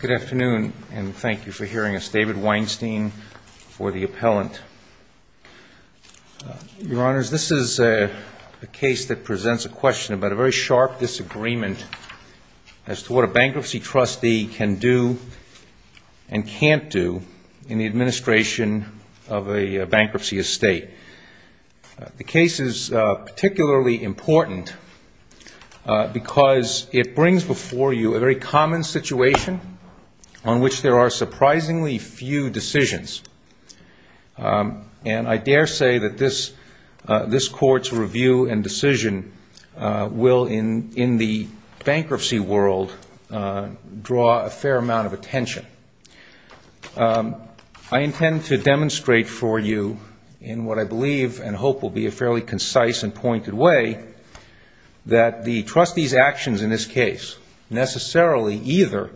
Good afternoon and thank you for hearing us. David Weinstein for the appellant. Your honors, this is a case that presents a question about a very sharp disagreement as to what a bankruptcy trustee can do and can't do in the administration of a bankruptcy estate. The case is particularly important because it brings before you a very common situation on which there are surprisingly few decisions. And I dare say that this court's review and decision will, in the bankruptcy world, draw a fair amount of attention. I intend to demonstrate for you, in what I believe and hope will be a fairly concise and pointed way, that the trustee's actions in this case necessarily either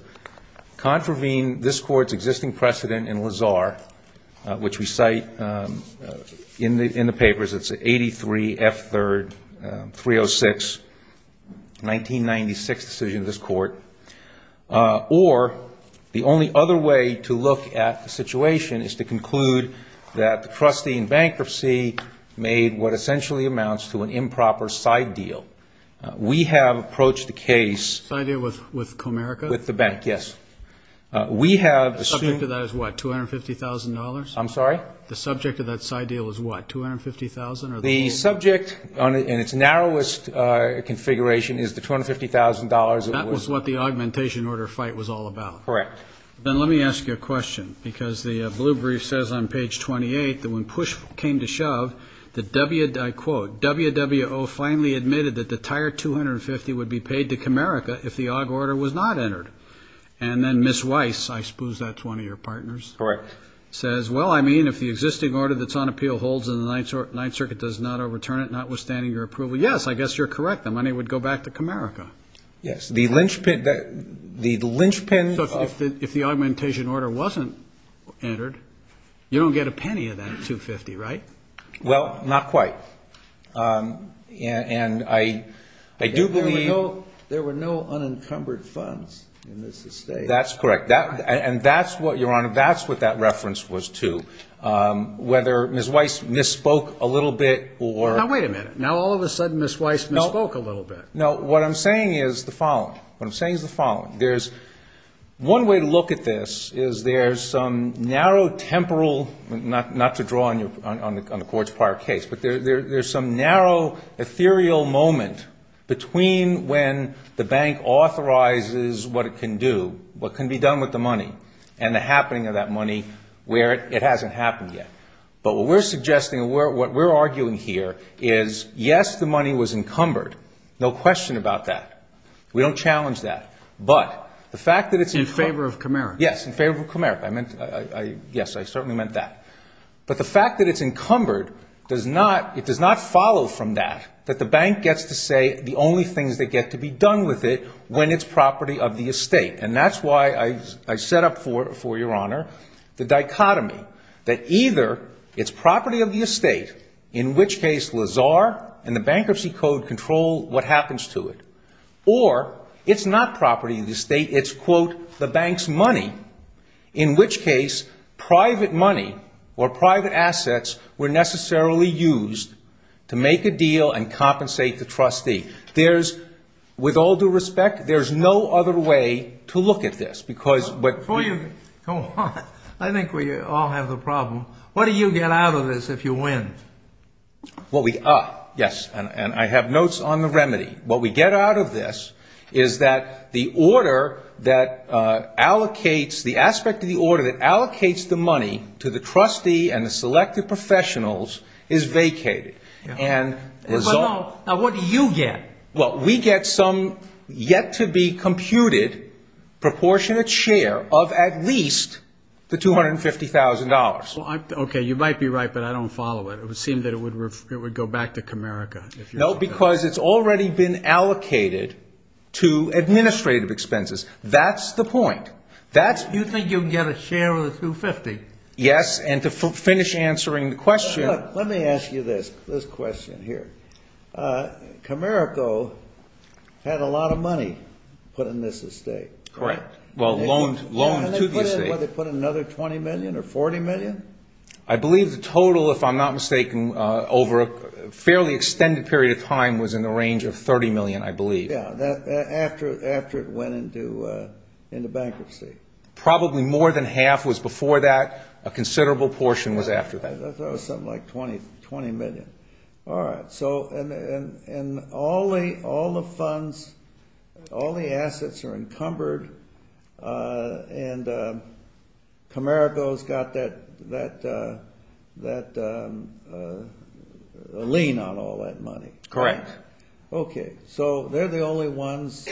contravene this court's existing precedent in Lazar, which we cite in the papers, it's 83 F. 3rd, 306, 1996 decision of this court, or the only other way to look at the situation is to conclude that the trustee in bankruptcy made what essentially amounts to an improper side deal. We have approached the case... Side deal with Comerica? With the bank, yes. The subject of that is what, $250,000? I'm sorry? The subject of that side deal is what, $250,000? The subject, in its narrowest configuration, is the $250,000. That was what the augmentation order fight was all about. Correct. Then let me ask you a question, because the blue brief says on page 28 that when push came to shove, I quote, W.W.O. finally admitted that the entire $250,000 would be paid to Comerica if the odd order was not entered. And then Ms. Weiss, I suppose that's one of your partners... Correct. ...says, well, I mean, if the existing order that's on appeal holds and the Ninth Circuit does not overturn it, notwithstanding your approval, yes, I guess you're correct, the money would go back to Comerica. Yes. The linchpin... If the augmentation order wasn't entered, you don't get a penny of that $250,000, right? Well, not quite. And I do believe... There were no unencumbered funds in this estate. That's correct. And that's what, Your Honor, that's what that reference was to. Whether Ms. Weiss misspoke a little bit or... Now wait a minute. Now all of a sudden Ms. Weiss misspoke a little bit. No, what I'm saying is the following. What I'm saying is the following. There's one way to look at this is there's some narrow temporal, not to draw on the court's prior case, but there's some narrow ethereal moment between when the bank authorizes what it can do, what can be done with the money, and the happening of that money where it hasn't happened yet. But what we're suggesting, what we're arguing here is, yes, the money was encumbered. No question about that. We don't challenge that. But the fact that it's... In favor of Comerica. Yes, in favor of Comerica. Yes, I certainly meant that. But the fact that it's encumbered does not... It does not follow from that, that the bank gets to say the only thing that gets to be done with it when it's property of the estate. And that's why I set up for Your Honor the dichotomy that either it's property of the estate, in which case Lazar and the bankruptcy code control what happens to it, or it's not property of the estate, it's, quote, the bank's money, in which case private money or private assets were necessarily used to make a deal and compensate the trustee. With all due respect, there's no other way to look at this because... Before you... Go on. I think we all have a problem. What do you get out of this if you win? Well, we... Yes, and I have notes on the remedy. What we get out of this is that the order that allocates... The aspect of the order that allocates the money to the trustee and the selected professionals is vacated. Now, what do you get? Well, we get some yet-to-be-computed proportionate share of at least the $250,000. Okay, you might be right, but I don't follow it. It would seem that it would go back to Comerica. No, because it's already been allocated to administrative expenses. That's the point. You think you can get a share of the $250,000? Yes, and to finish answering the question... This question here. Comerica had a lot of money put in this estate. Correct. Well, loans to the estate. And they put in another $20 million or $40 million? I believe the total, if I'm not mistaken, over a fairly extended period of time was in the range of $30 million, I believe. Yes, after it went into bankruptcy. Probably more than half was before that. A considerable portion was after that. I thought it was something like $20 million. All right, and all the funds, all the assets are encumbered, and Comerica's got that lien on all that money. Correct. Okay, so they're the only ones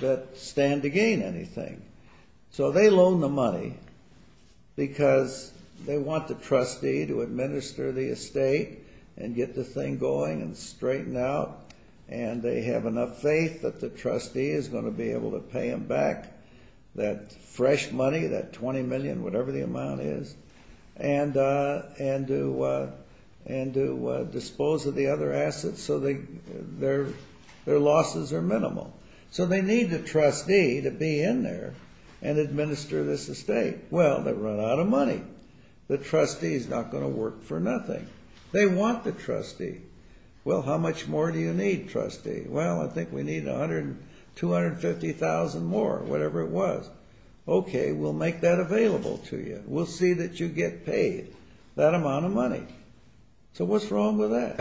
that stand to gain anything. So they loan the money because they want the trustee to administer the estate and get the thing going and straighten out, and they have enough faith that the trustee is going to be able to pay them back that fresh money, that $20 million, whatever the amount is, and to dispose of the other assets so their losses are minimal. So they need the trustee to be in there and administer this estate. Well, they run out of money. The trustee's not going to work for nothing. They want the trustee. Well, how much more do you need, trustee? Well, I think we need $250,000 more, whatever it was. Okay, we'll make that available to you. We'll see that you get paid that amount of money. So what's wrong with that?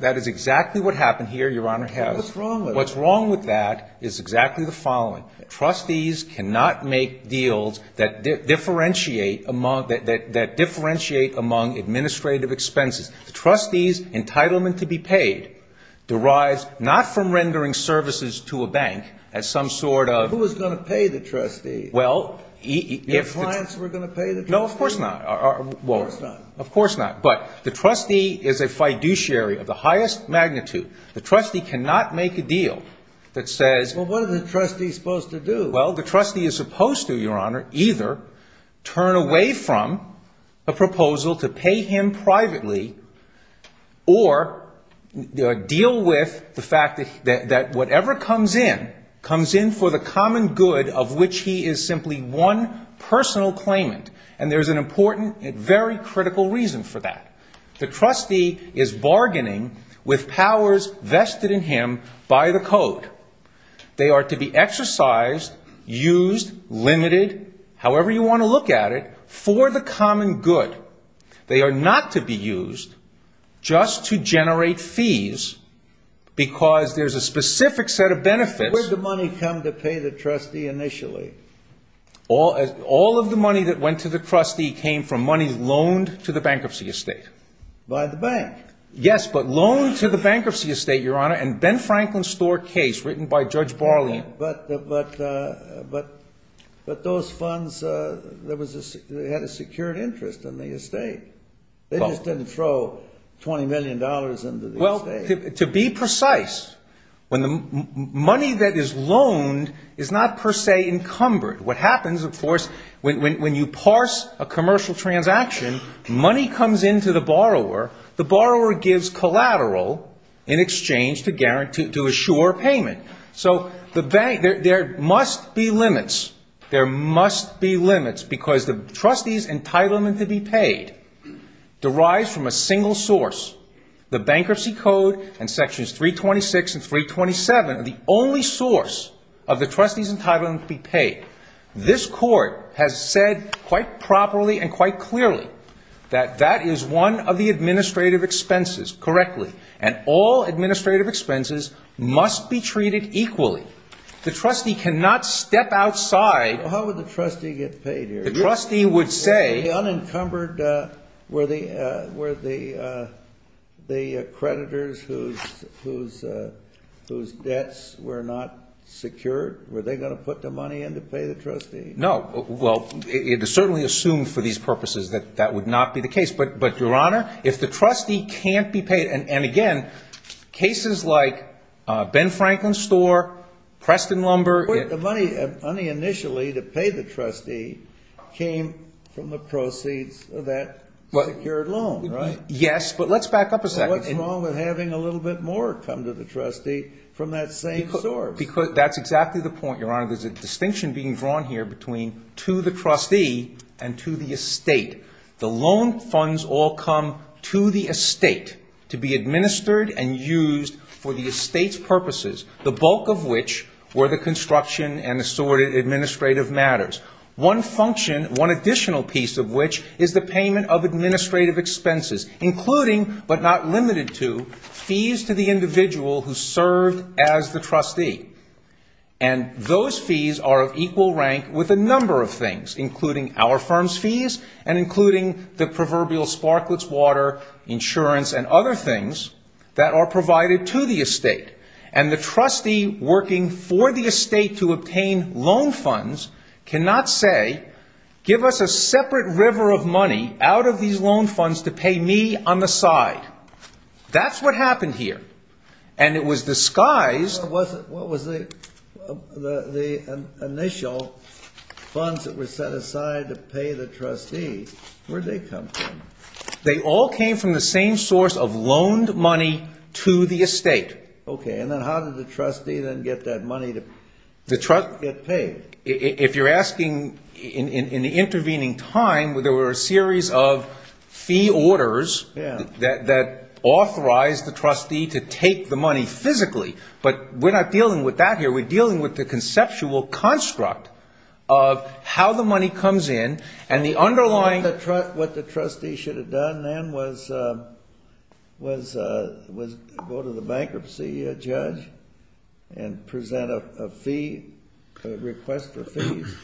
That is exactly what happened here, Your Honor. What's wrong with it? The problem with that is exactly the following. Trustees cannot make deals that differentiate among administrative expenses. The trustee's entitlement to be paid derives not from rendering services to a bank as some sort of... Who is going to pay the trustee? Well... The clients who are going to pay the trustee? No, of course not. Of course not. Of course not. But the trustee is a fiduciary of the highest magnitude. The trustee cannot make a deal that says... Well, what is the trustee supposed to do? Well, the trustee is supposed to, Your Honor, either turn away from a proposal to pay him privately or deal with the fact that whatever comes in, comes in for the common good of which he is simply one personal claimant. And there's an important and very critical reason for that. The trustee is bargaining with powers vested in him by the court. They are to be exercised, used, limited, however you want to look at it, for the common good. They are not to be used just to generate fees because there's a specific set of benefits... Where did the money come to pay the trustee initially? All of the money that went to the trustee came from money loaned to the bankruptcy estate. By the bank? Yes, but loaned to the bankruptcy estate, Your Honor, and Ben Franklin's store case written by Judge Barley. But those funds had a secured interest in the estate. They just didn't throw $20 million into the estate. Well, to be precise, money that is loaned is not per se encumbered. What happens, of course, when you parse a commercial transaction, money comes into the borrower, the borrower gives collateral in exchange to assure payment. So there must be limits. There must be limits because the trustee's entitlement to be paid derives from a single source. The Bankruptcy Code and Sections 326 and 327 are the only source of the trustee's entitlement to be paid. This Court has said quite properly and quite clearly that that is one of the administrative expenses, correctly, and all administrative expenses must be treated equally. The trustee cannot step outside... How would the trustee get paid here? The unencumbered were the creditors whose debts were not secured? Were they going to put the money in to pay the trustee? No. Well, it is certainly assumed for these purposes that that would not be the case. But, Your Honor, if the trustee can't be paid, and again, cases like Ben Franklin's store, Preston Lumber... The money initially to pay the trustee came from the proceeds of that secured loan, right? Yes, but let's back up a second. What's wrong with having a little bit more come to the trustee from that same store? That's exactly the point, Your Honor. There's a distinction being drawn here between to the trustee and to the estate. The loan funds all come to the estate to be administered and used for the estate's purposes, the bulk of which were the construction and assorted administrative matters. One function, one additional piece of which, is the payment of administrative expenses, including, but not limited to, fees to the individual who served as the trustee. And those fees are of equal rank with a number of things, including our firm's fees, and including the proverbial sparklets, water, insurance, and other things that are provided to the estate. And the trustee working for the estate to obtain loan funds cannot say, give us a separate river of money out of these loan funds to pay me on the side. That's what happened here. And it was disguised... What was the initial funds that were set aside to pay the trustee? Where'd they come from? They all came from the same source of loaned money to the estate. Okay, and then how did the trustee then get that money to get paid? If you're asking, in the intervening time, there were a series of fee orders that authorized the trustee to take the money physically, but we're not dealing with that here. We're dealing with the conceptual construct of how the money comes in and the underlying... What the trustee should have done then was go to the bankruptcy judge and present a request for fees.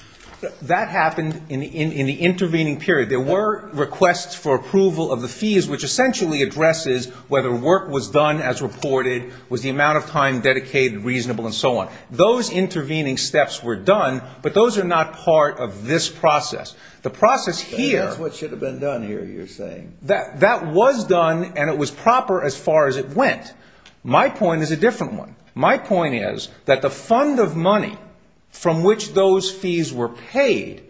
That happened in the intervening period. There were requests for approval of the fees, which essentially addresses whether work was done as reported, was the amount of time dedicated reasonable, and so on. Those intervening steps were done, but those are not part of this process. That's what should have been done here, you're saying. That was done, and it was proper as far as it went. My point is a different one. My point is that the fund of money from which those fees were paid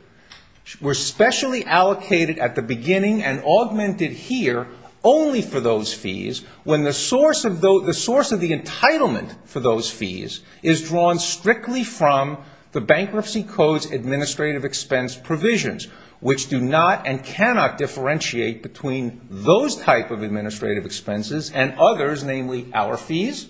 were specially allocated at the beginning and augmented here only for those fees when the source of the entitlement for those fees is drawn strictly from the Bankruptcy Code's administrative expense provisions, which do not and cannot differentiate between those types of administrative expenses and others, namely our fees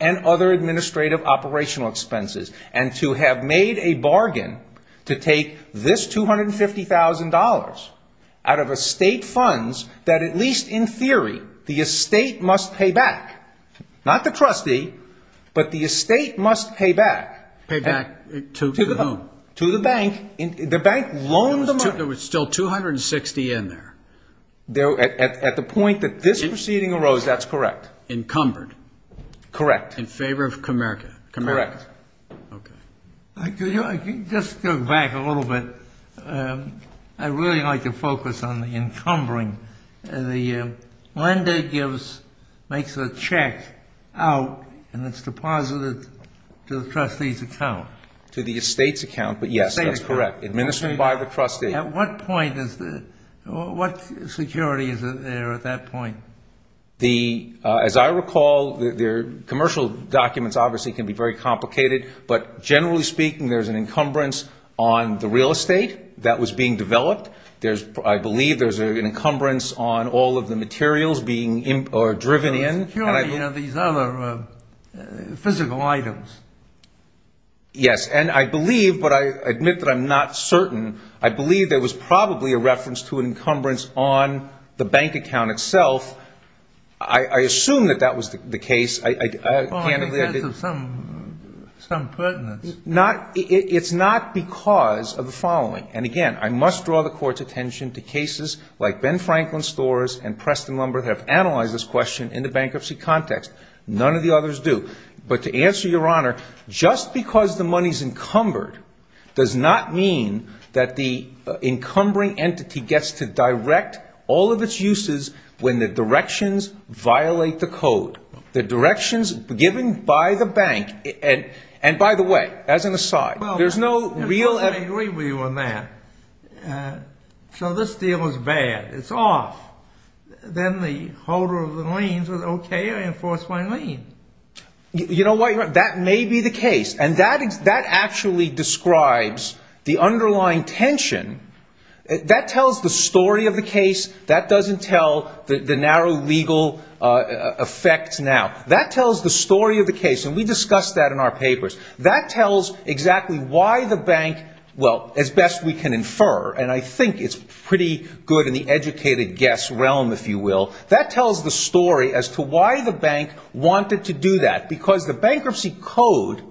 and other administrative operational expenses, and to have made a bargain to take this $250,000 out of estate funds that at least in theory the estate must pay back. Not the trustee, but the estate must pay back. Pay back to whom? To the bank. The bank loans the money. There was still $260,000 in there. At the point that this proceeding arose, that's correct. Encumbered. Correct. In favor of Comerica. Correct. Okay. I think just to go back a little bit, I'd really like to focus on the encumbering. The lender makes a check out and it's deposited to the trustee's account. To the estate's account, but yes, that's correct. Administered by the trustee. At what point is this? What security is there at that point? As I recall, the commercial documents obviously can be very complicated, but generally speaking there's an encumbrance on the real estate that was being developed. I believe there's an encumbrance on all of the materials being driven in. Surely you have these other physical items. Yes, and I believe, but I admit that I'm not certain, I believe there was probably a reference to an encumbrance on the bank account itself. I assume that that was the case. Well, I think there's some pertinence. It's not because of the following. And again, I must draw the court's attention to cases like Ben Franklin Storrs and Preston Lumber that have analyzed this question in the bankruptcy context. None of the others do. But to answer your honor, just because the money's encumbered does not mean that the encumbering entity gets to direct all of its uses when the directions violate the code. The directions given by the bank, and by the way, as an aside, there's no real evidence. So this deal is bad. It's off. Then the holder of the liens says, okay, I enforce my lien. You know what, that may be the case. And that actually describes the underlying tension. That tells the story of the case. That doesn't tell the narrow legal effect now. That tells the story of the case, and we discussed that in our papers. That tells exactly why the bank, well, as best we can infer, and I think it's pretty good in the educated guess realm, if you will, that tells the story as to why the bank wanted to do that. Because the bankruptcy code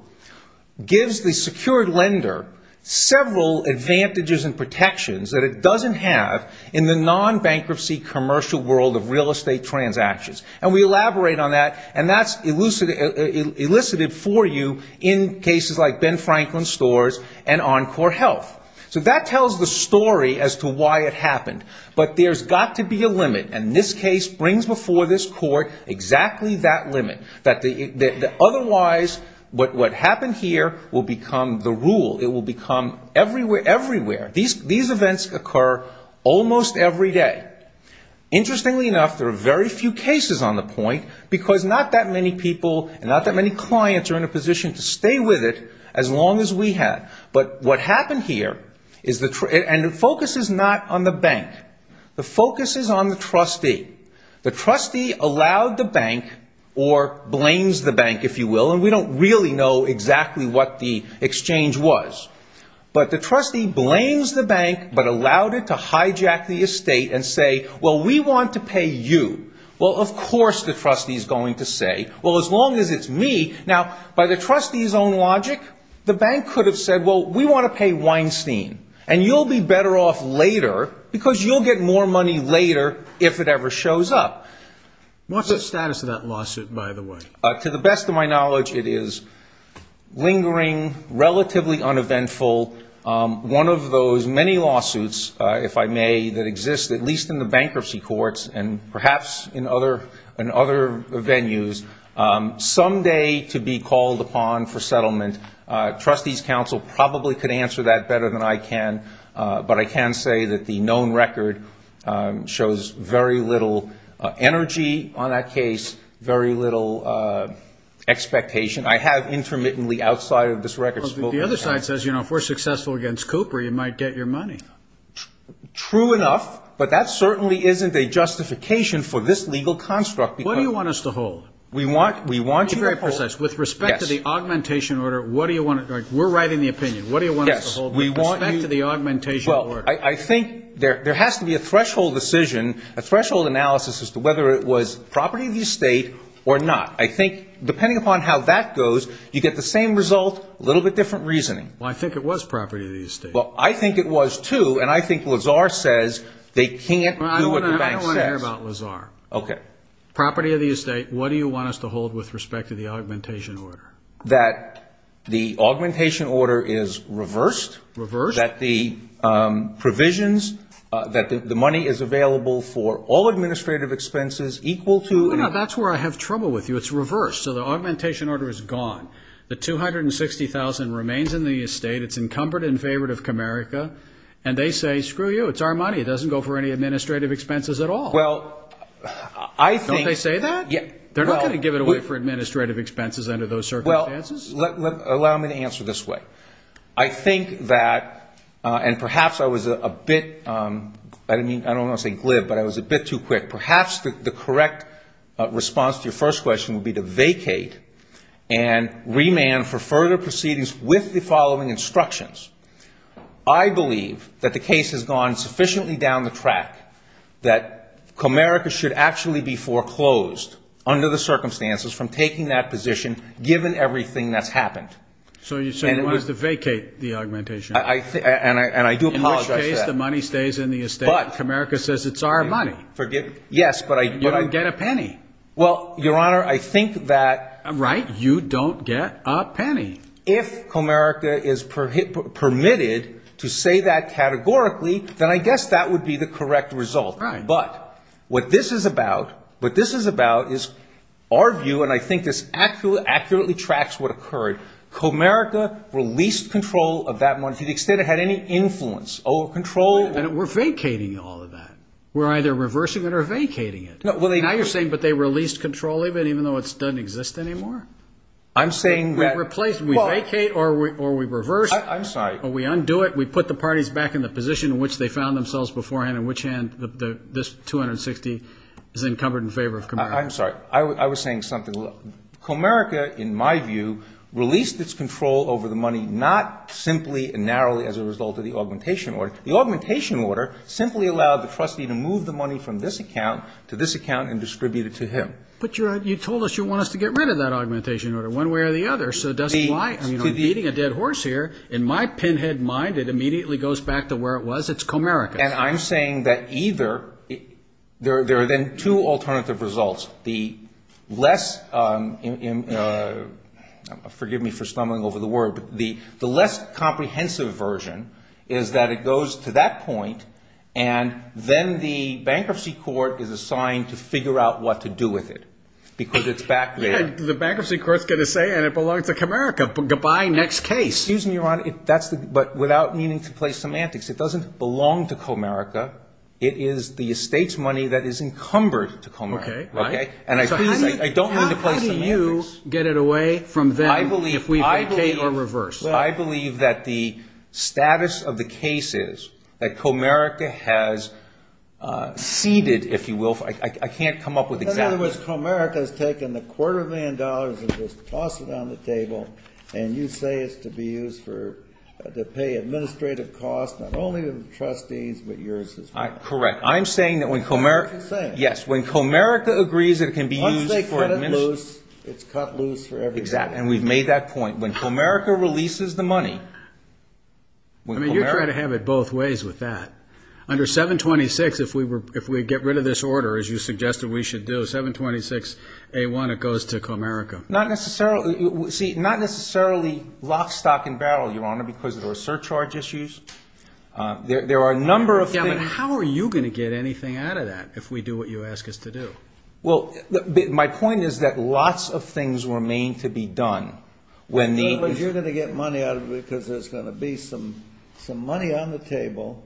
gives the secured lender several advantages and protections that it doesn't have in the non-bankruptcy commercial world of real estate transactions. And we elaborate on that, and that's elicited for you in cases like Ben Franklin Stores and Encore Health. So that tells the story as to why it happened. But there's got to be a limit, and this case brings before this court exactly that limit. Otherwise, what happened here will become the rule. It will become everywhere. These events occur almost every day. Interestingly enough, there are very few cases on the point because not that many people and not that many clients are in a position to stay with it as long as we have. But what happened here, and the focus is not on the bank. The focus is on the trustee. The trustee allowed the bank or blames the bank, if you will, and we don't really know exactly what the exchange was. But the trustee blames the bank but allowed it to hijack the estate and say, well, we want to pay you. Well, of course the trustee is going to say, well, as long as it's me. Now, by the trustee's own logic, the bank could have said, well, we want to pay Weinstein, and you'll be better off later because you'll get more money later if it ever shows up. What's the status of that lawsuit, by the way? To the best of my knowledge, it is lingering, relatively uneventful. One of those many lawsuits, if I may, that exist, at least in the bankruptcy courts and perhaps in other venues, someday could be called upon for settlement. Trustees Council probably could answer that better than I can, but I can say that the known record shows very little energy on that case, very little expectation I have intermittently outside of this record. The other side says, you know, if we're successful against Cooper, you might get your money. True enough, but that certainly isn't a justification for this legal construct. What do you want us to hold? With respect to the augmentation order, we're writing the opinion. What do you want us to hold with respect to the augmentation order? Well, I think there has to be a threshold decision, a threshold analysis as to whether it was property of the estate or not. I think, depending upon how that goes, you get the same result, a little bit different reasoning. Well, I think it was property of the estate. Well, I think it was, too, and I think Lazar says they can't do what the bank says. I don't want to hear about Lazar. Okay. Property of the estate, what do you want us to hold with respect to the augmentation order? That the augmentation order is reversed. Reversed. So that the provisions, that the money is available for all administrative expenses equal to... No, that's where I have trouble with you. It's reversed. So the augmentation order is gone. The $260,000 remains in the estate. It's encumbered in favor of Comerica, and they say, screw you, it's our money. It doesn't go for any administrative expenses at all. Well, I think... Don't they say that? They're not going to give it away for administrative expenses under those circumstances. Allow me to answer this way. I think that, and perhaps I was a bit... I don't want to say glib, but I was a bit too quick. Perhaps the correct response to your first question would be to vacate and remand for further proceedings with the following instructions. I believe that the case has gone sufficiently down the track that Comerica should actually be foreclosed under the circumstances from taking that position given everything that's happened. So you said it was to vacate the augmentation. And I do apologize for that. In which case, the money stays in the estate. But... Comerica says it's our money. Yes, but I... You don't get a penny. Well, Your Honor, I think that... Right, you don't get a penny. If Comerica is permitted to say that categorically, then I guess that would be the correct result. Right. But what this is about is our view, and I think this accurately tracks what occurred. Comerica released control of that money. To the extent it had any influence over control... We're vacating all of that. We're either reversing it or vacating it. Now you're saying... But they released control of it even though it doesn't exist anymore? I'm saying that... We've replaced... We vacate or we reverse. I'm sorry. We undo it. We put the parties back in the position in which they found themselves beforehand, in which hand this $260 is then covered in favor of Comerica. I'm sorry. I was saying something. Comerica, in my view, released its control over the money not simply and narrowly as a result of the augmentation order. The augmentation order simply allowed the trustee to move the money from this account to this account and distribute it to him. But you told us you want us to get rid of that augmentation order one way or the other. Because eating a dead horse here, in my pinhead mind, it immediately goes back to where it was. It's Comerica. And I'm saying that either... There are then two alternative results. The less... Forgive me for stumbling over the word. The less comprehensive version is that it goes to that point and then the bankruptcy court is assigned to figure out what to do with it because it's back there. The bankruptcy court is going to say it belongs to Comerica. Goodbye, next case. Excuse me, Ron. But without meaning to play semantics, it doesn't belong to Comerica. It is the estate's money that is encumbered to Comerica. How do you get it away from them if we vacate or reverse? I believe that the status of the case is that Comerica has ceded, if you will. I can't come up with examples. In other words, Comerica has taken a quarter of a million dollars and just tossed it on the table, and you say it's to be used to pay administrative costs not only to the trustees but yours as well. Correct. I'm saying that when Comerica... That's what you're saying. Yes, when Comerica agrees it can be used for administrative... Once they cut it loose, it's cut loose for everybody. Exactly, and we've made that point. When Comerica releases the money... I mean, you're trying to have it both ways with that. Under 726, if we get rid of this order, as you suggested we should do, 726A1, it goes to Comerica. Not necessarily... See, not necessarily lock, stock, and barrel, Your Honor, because of the surcharge issues. There are a number of things... How are you going to get anything out of that if we do what you ask us to do? Well, my point is that lots of things remain to be done. You're going to get money out of it because there's going to be some money on the table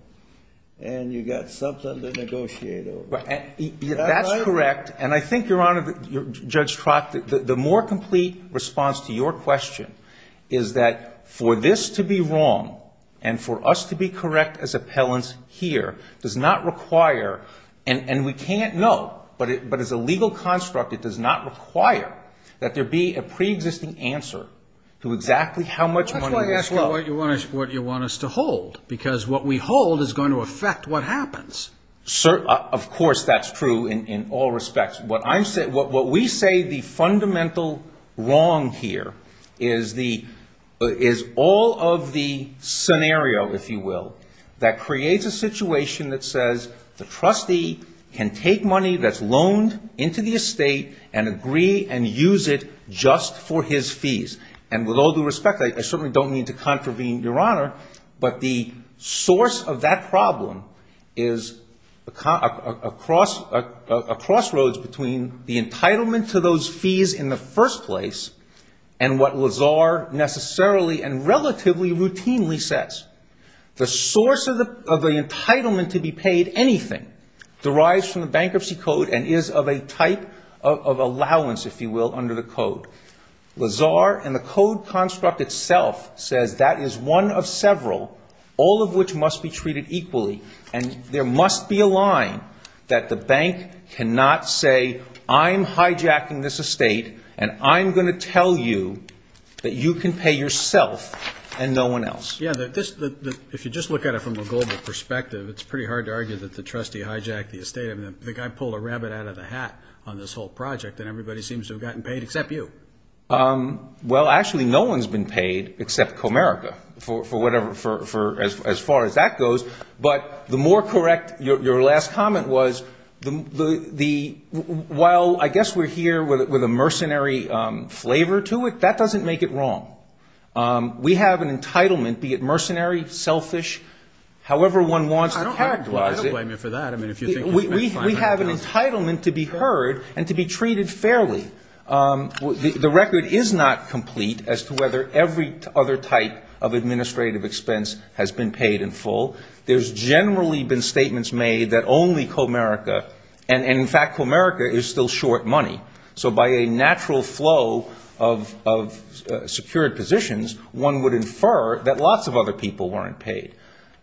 and you've got something to negotiate over. That's correct, and I think, Your Honor, Judge Trock, the more complete response to your question is that for this to be wrong and for us to be correct as appellants here does not require, and we can't know, but as a legal construct it does not require that there be a preexisting answer to exactly how much money... That's why I asked you what you want us to hold, because what we hold is going to affect what happens. Of course that's true in all respects. What we say the fundamental wrong here is all of the scenario, if you will, that creates a situation that says the trustee can take money that's loaned into the estate and agree and use it just for his fees. With all due respect, I certainly don't mean to contravene, Your Honor, but the source of that problem is a crossroads between the entitlement to those fees in the first place and what Lazar necessarily and relatively routinely says. The source of the entitlement to be paid anything derives from the bankruptcy code and is of a type of allowance, if you will, under the code. Lazar and the code construct itself says that is one of several, all of which must be treated equally, and there must be a line that the bank cannot say, I'm hijacking this estate and I'm going to tell you that you can pay yourself and no one else. If you just look at it from a global perspective, it's pretty hard to argue that the trustee hijacked the estate. I pull a rabbit out of the hat on this whole project and everybody seems to have gotten paid except you. Actually, no one's been paid except Comerica, as far as that goes. Your last comment was, while I guess we're here with a mercenary flavor to it, that doesn't make it wrong. We have an entitlement, be it mercenary, selfish, however one wants to characterize it. We have an entitlement to be heard and to be treated fairly. The record is not complete as to whether every other type of administrative expense has been paid in full. There's generally been statements made that only Comerica, and in fact Comerica is still short money. So by a natural flow of secured positions, one would infer that lots of other people weren't paid.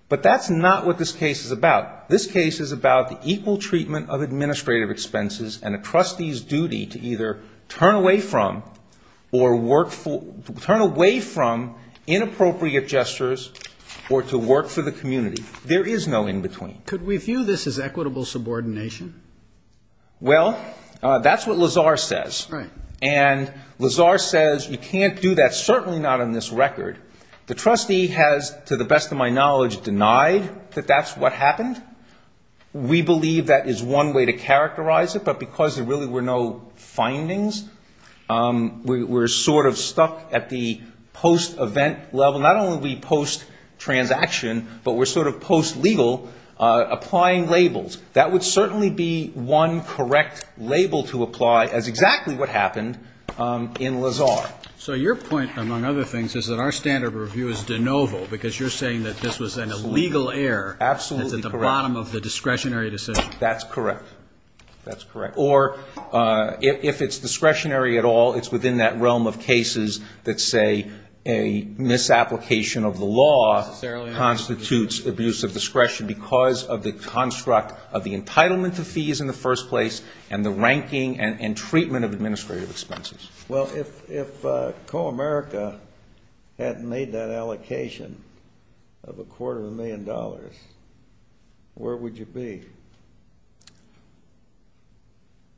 But that's not what this case is about. This case is about the equal treatment of administrative expenses and a trustee's duty to either turn away from inappropriate gestures or to work for the community. There is no in-between. Could we view this as equitable subordination? Well, that's what Lazar says. And Lazar says you can't do that, certainly not on this record. The trustee has, to the best of my knowledge, denied that that's what happened. We believe that is one way to characterize it, but because there really were no findings, we're sort of stuck at the post-event level. Not only are we post-transaction, but we're sort of post-legal applying labels. That would certainly be one correct label to apply as exactly what happened in Lazar. So your point, among other things, is that our standard review is de novo, because you're saying that this was an illegal error at the bottom of the discretionary decision. That's correct. That's correct. Or if it's discretionary at all, it's within that realm of cases that, say, a misapplication of the law constitutes abuse of discretion because of the construct of the entitlement to fees in the first place and the ranking and treatment of administrative expenses. Well, if Co-America had made that allocation of a quarter of a million dollars, where would you be?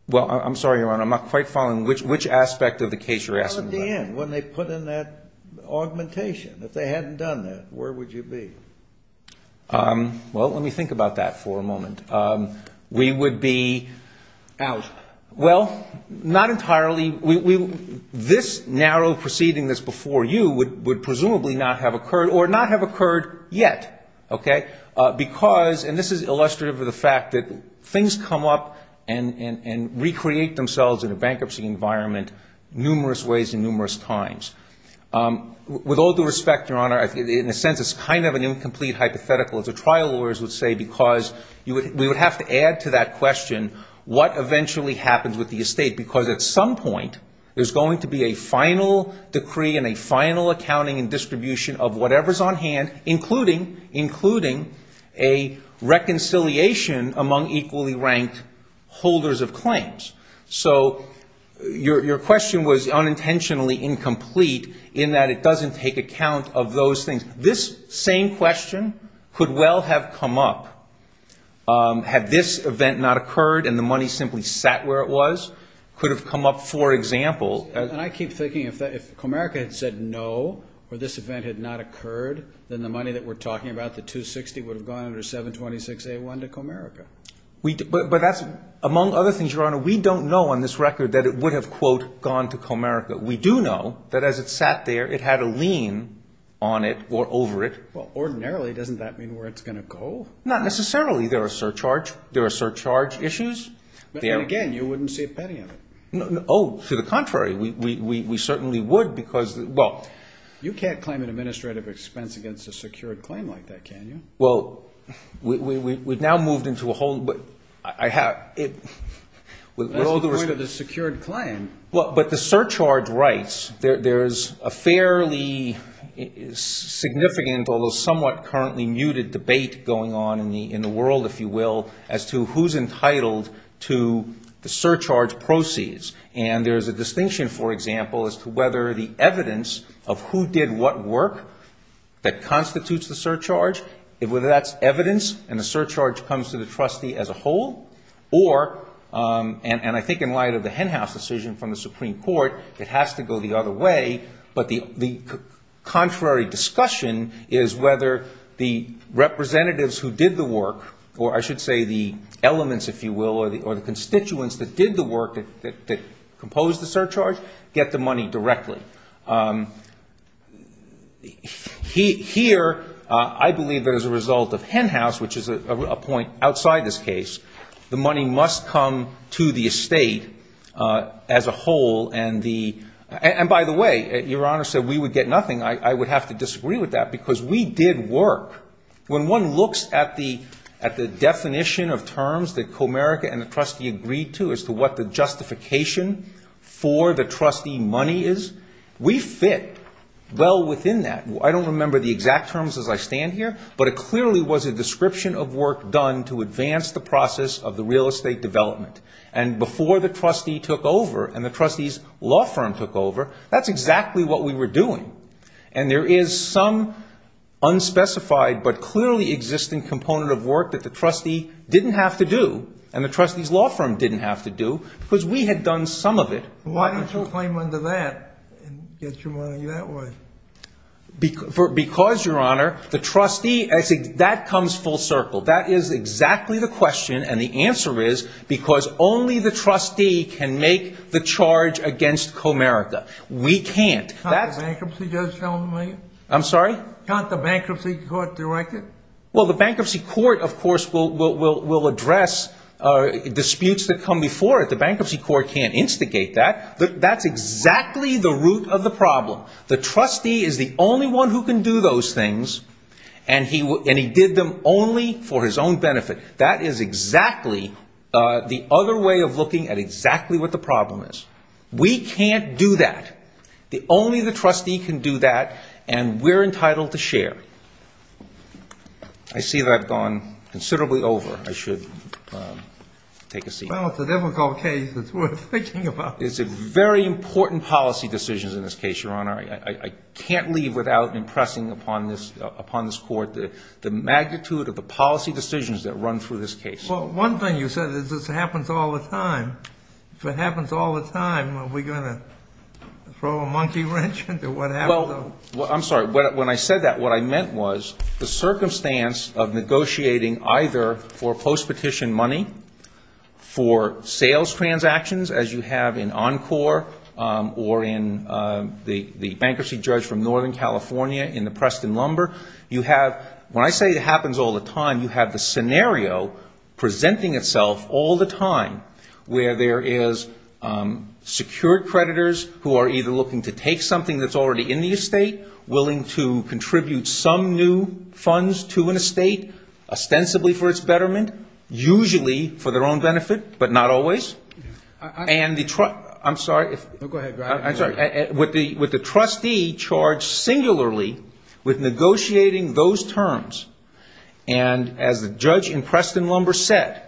Well, I'm sorry, Your Honor. I'm not quite following which aspect of the case you're asking about. Well, at the end, when they put in that augmentation. If they hadn't done that, where would you be? Well, let me think about that for a moment. We would be out. Well, not entirely. This narrow proceeding that's before you would presumably not have occurred or not have occurred yet, okay? Because, and this is illustrative of the fact that things come up and recreate themselves in a bankruptcy environment numerous ways and numerous times. With all due respect, Your Honor, in a sense it's kind of an incomplete hypothetical, as the trial lawyers would say, because we would have to add to that question what eventually happens with the estate. Because at some point there's going to be a final decree and a final accounting and distribution of whatever's on hand, including a reconciliation among equally ranked holders of claims. So your question was unintentionally incomplete in that it doesn't take account of those things. And this same question could well have come up had this event not occurred and the money simply sat where it was. It could have come up, for example. And I keep thinking if Comerica had said no or this event had not occurred, then the money that we're talking about, the 260, would have gone under 726A1 to Comerica. But among other things, Your Honor, we don't know on this record that it would have, quote, gone to Comerica. But we do know that as it sat there, it had a lien on it or over it. Well, ordinarily, doesn't that mean where it's going to go? Not necessarily. There are surcharge issues. And again, you wouldn't see a penny of it. Oh, to the contrary. We certainly would because, well. You can't claim an administrative expense against a secured claim like that, can you? Well, we've now moved into a whole, but I have. That's the point of the secured claim. But the surcharge rights, there's a fairly significant, although somewhat currently muted debate going on in the world, if you will, as to who's entitled to the surcharge proceeds. And there's a distinction, for example, as to whether the evidence of who did what work that constitutes the surcharge, whether that's evidence and the surcharge comes to the trustee as a whole, or, and I think in light of the Henhouse decision from the Supreme Court, it has to go the other way, but the contrary discussion is whether the representatives who did the work, or I should say the elements, if you will, or the constituents that did the work that composed the surcharge, get the money directly. Here, I believe that as a result of Henhouse, which is a point outside this case, the money must come to the estate as a whole and the, and by the way, Your Honor said we would get nothing. I would have to disagree with that because we did work. When one looks at the definition of terms that Comerica and the trustee agreed to as to what the justification for the trustee money is, we fit well within that. I don't remember the exact terms as I stand here, but it clearly was a description of work done to advance the process of the real estate development. And before the trustee took over and the trustee's law firm took over, that's exactly what we were doing. And there is some unspecified but clearly existing component of work that the trustee didn't have to do and the trustee's law firm didn't have to do because we had done some of it. Why don't you claim under that and get your money that way? Because, Your Honor, the trustee, that comes full circle. That is exactly the question and the answer is because only the trustee can make the charge against Comerica. We can't. Can't the bankruptcy court direct it? Well, the bankruptcy court, of course, will address disputes that come before it. The bankruptcy court can't instigate that. That's exactly the root of the problem. The trustee is the only one who can do those things and he did them only for his own benefit. That is exactly the other way of looking at exactly what the problem is. We can't do that. Only the trustee can do that and we're entitled to share. I see that I've gone considerably over. I should take a seat. Well, it's a difficult case. It's a very important policy decision in this case, Your Honor. I can't leave without impressing upon this court the magnitude of the policy decisions that run through this case. Well, one thing you said is this happens all the time. If it happens all the time, are we going to throw a monkey wrench into what happens? I'm sorry. When I said that, what I meant was the circumstance of negotiating either for post-petition money, for sales transactions as you have in Encore or in the bankruptcy judge from Northern California in the Preston Lumber, you have, when I say it happens all the time, you have the scenario presenting itself all the time where there is secured creditors who are either looking to take something that's already in the estate, willing to contribute some new funds to an estate ostensibly for its betterment, usually for their own benefit, but not always. I'm sorry. Go ahead. With the trustee charged singularly with negotiating those terms, and as the judge in Preston Lumber said,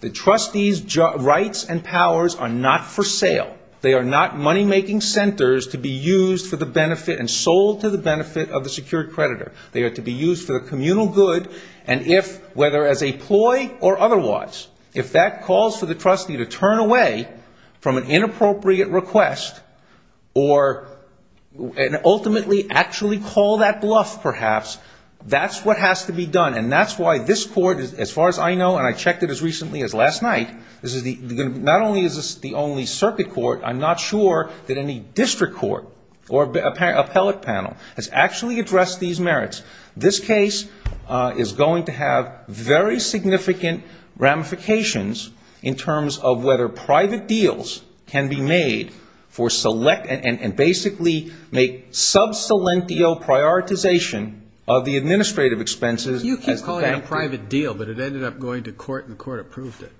the trustee's rights and powers are not for sale. They are not money-making centers to be used for the benefit and sold to the benefit of the secured creditor. They are to be used for the communal good, and if, whether as a ploy or otherwise, if that calls for the trustee to turn away from an inappropriate request or ultimately actually call that bluff perhaps, that's what has to be done, and that's why this court, as far as I know, and I checked it as recently as last night, not only is this the only circuit court, I'm not sure that any district court or appellate panel has actually addressed these merits. This case is going to have very significant ramifications in terms of whether private deals can be made and basically make sub salentio prioritization of the administrative expenses. You keep calling it a private deal, but it ended up going to court, and the court approved it.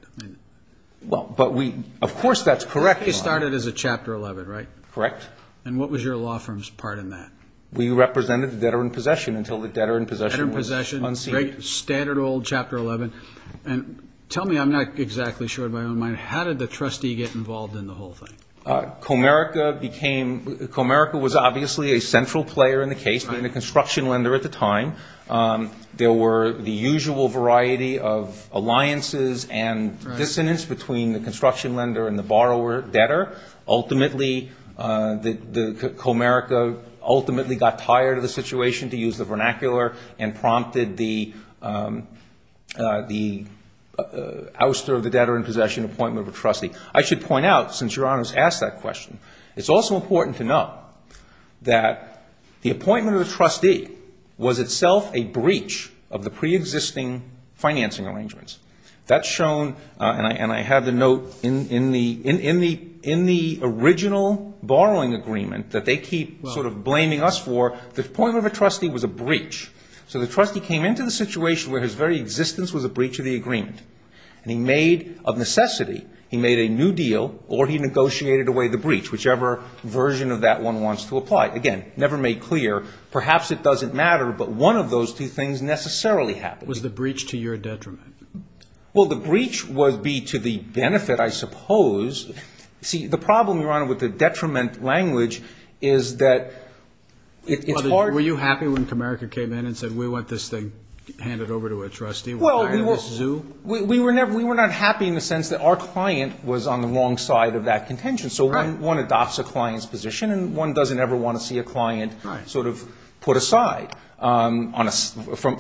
Of course that's correct. It started as a Chapter 11, right? Correct. And what was your law firm's part in that? We represented the debtor in possession until the debtor in possession was unsealed. Debtor in possession, standard old Chapter 11. Tell me, I'm not exactly sure of my own mind, how did the trustee get involved in the whole thing? Comerica became, Comerica was obviously a central player in the case, being a construction lender at the time. There were the usual variety of alliances and dissonance between the construction lender and the borrower debtor. Ultimately, Comerica ultimately got tired of the situation, to use the vernacular, and prompted the ouster of the debtor in possession appointment of a trustee. I should point out, since Your Honor has asked that question, it's also important to note that the appointment of a trustee was itself a breach of the pre-existing financing arrangements. That's shown, and I have the note, in the original borrowing agreement that they keep sort of blaming us for, the appointment of a trustee was a breach. So the trustee came into the situation where his very existence was a breach of the agreement. And he made, of necessity, he made a new deal, or he negotiated away the breach, whichever version of that one wants to apply. Again, never made clear, perhaps it doesn't matter, but one of those two things necessarily happened. Was the breach to your detriment? Well, the breach would be to the benefit, I suppose. See, the problem, Your Honor, with the detriment language is that it's hard to... Were you happy when Comerica came in and said, we want this thing handed over to a trustee? Well, we were not happy in the sense that our client was on the wrong side of that contention. So one adopts a client's position, and one doesn't ever want to see a client sort of put aside. From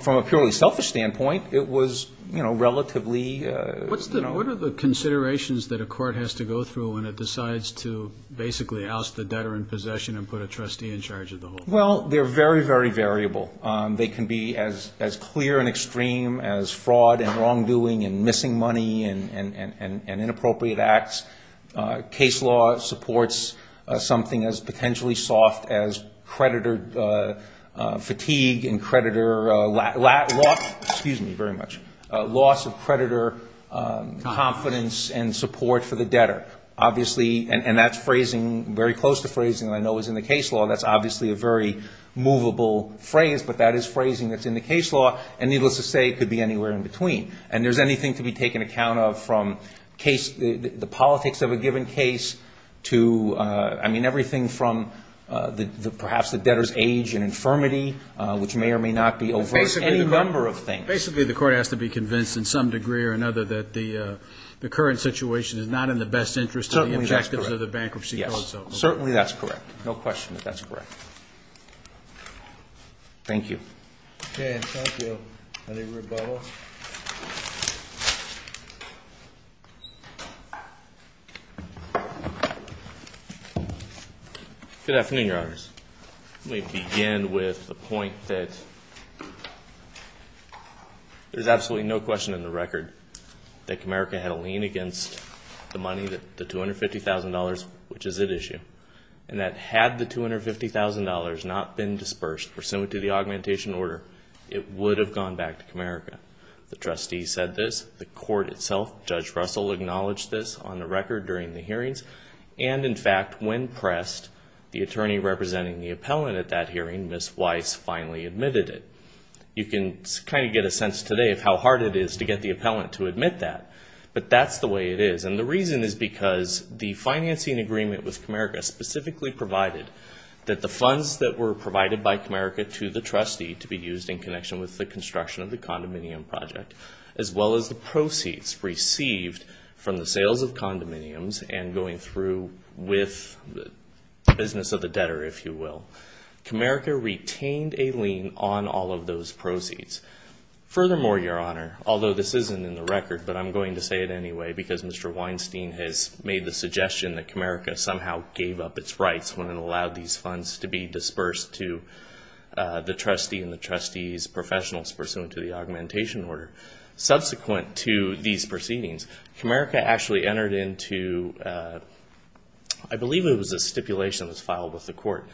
a purely selfish standpoint, it was relatively... What are the considerations that a court has to go through when it decides to basically oust the debtor in possession and put a trustee in charge of the whole thing? Well, they're very, very variable. They can be as clear and extreme as fraud and wrongdoing and missing money and inappropriate acts. Case law supports something as potentially soft as creditor fatigue and creditor... Excuse me, very much. Loss of creditor confidence and support for the debtor. Obviously, and that's phrasing, very close to phrasing I know is in the case law. That's obviously a very movable phrase, but that is phrasing that's in the case law, and needless to say, it could be anywhere in between. And there's anything to be taken account of from the politics of a given case to... I mean, everything from perhaps the debtor's age and infirmity, which may or may not be over... Any number of things. Basically, the court has to be convinced in some degree or another that the current situation is not in the best interest... Certainly, that's correct. ...of the effectiveness of the bankruptcy clause. Yes, certainly that's correct. No question that that's correct. Thank you. Okay, thank you. I think we're about all set. Good afternoon, Your Honors. Let me begin with a point that there's absolutely no question in the record that Comerica had a lien against the money, the $250,000, which is at issue, and that had the $250,000 not been dispersed pursuant to the augmentation order, it would have gone back to Comerica. The trustee said this. The court itself, Judge Russell, acknowledged this on the record during the hearings. And, in fact, when pressed, the attorney representing the appellant at that hearing, Ms. Weiss, finally admitted it. You can kind of get a sense today of how hard it is to get the appellant to admit that, but that's the way it is. And the reason is because the financing agreement with Comerica specifically provided that the funds that were provided by Comerica to the trustee to be used in connection with the construction of the condominium project, as well as the proceeds received from the sales of condominiums and going through with the business of the debtor, if you will, Comerica retained a lien on all of those proceeds. Furthermore, Your Honor, although this isn't in the record, but I'm going to say it anyway, because Mr. Weinstein has made the suggestion that Comerica somehow gave up its rights when it allowed these funds to be dispersed to the trustee and the trustee's professionals pursuant to the augmentation order. Subsequent to these proceedings, Comerica actually entered into, I believe it was a stipulation that was filed with the court,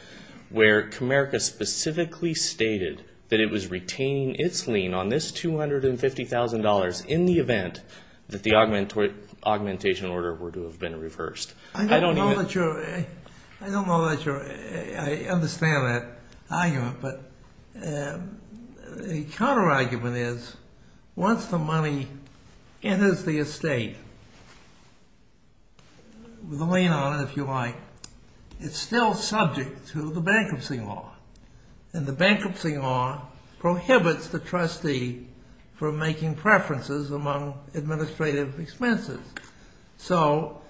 where Comerica specifically stated that it was retaining its lien on this $250,000 in the event that the augmentation order were to have been reversed. I don't know that you're... I understand that argument, but the counterargument is once the money enters the estate, the lien on it, if you like, is still subject to the bankruptcy law. And the bankruptcy law prohibits the trustee from making preferences among administrative expenses. So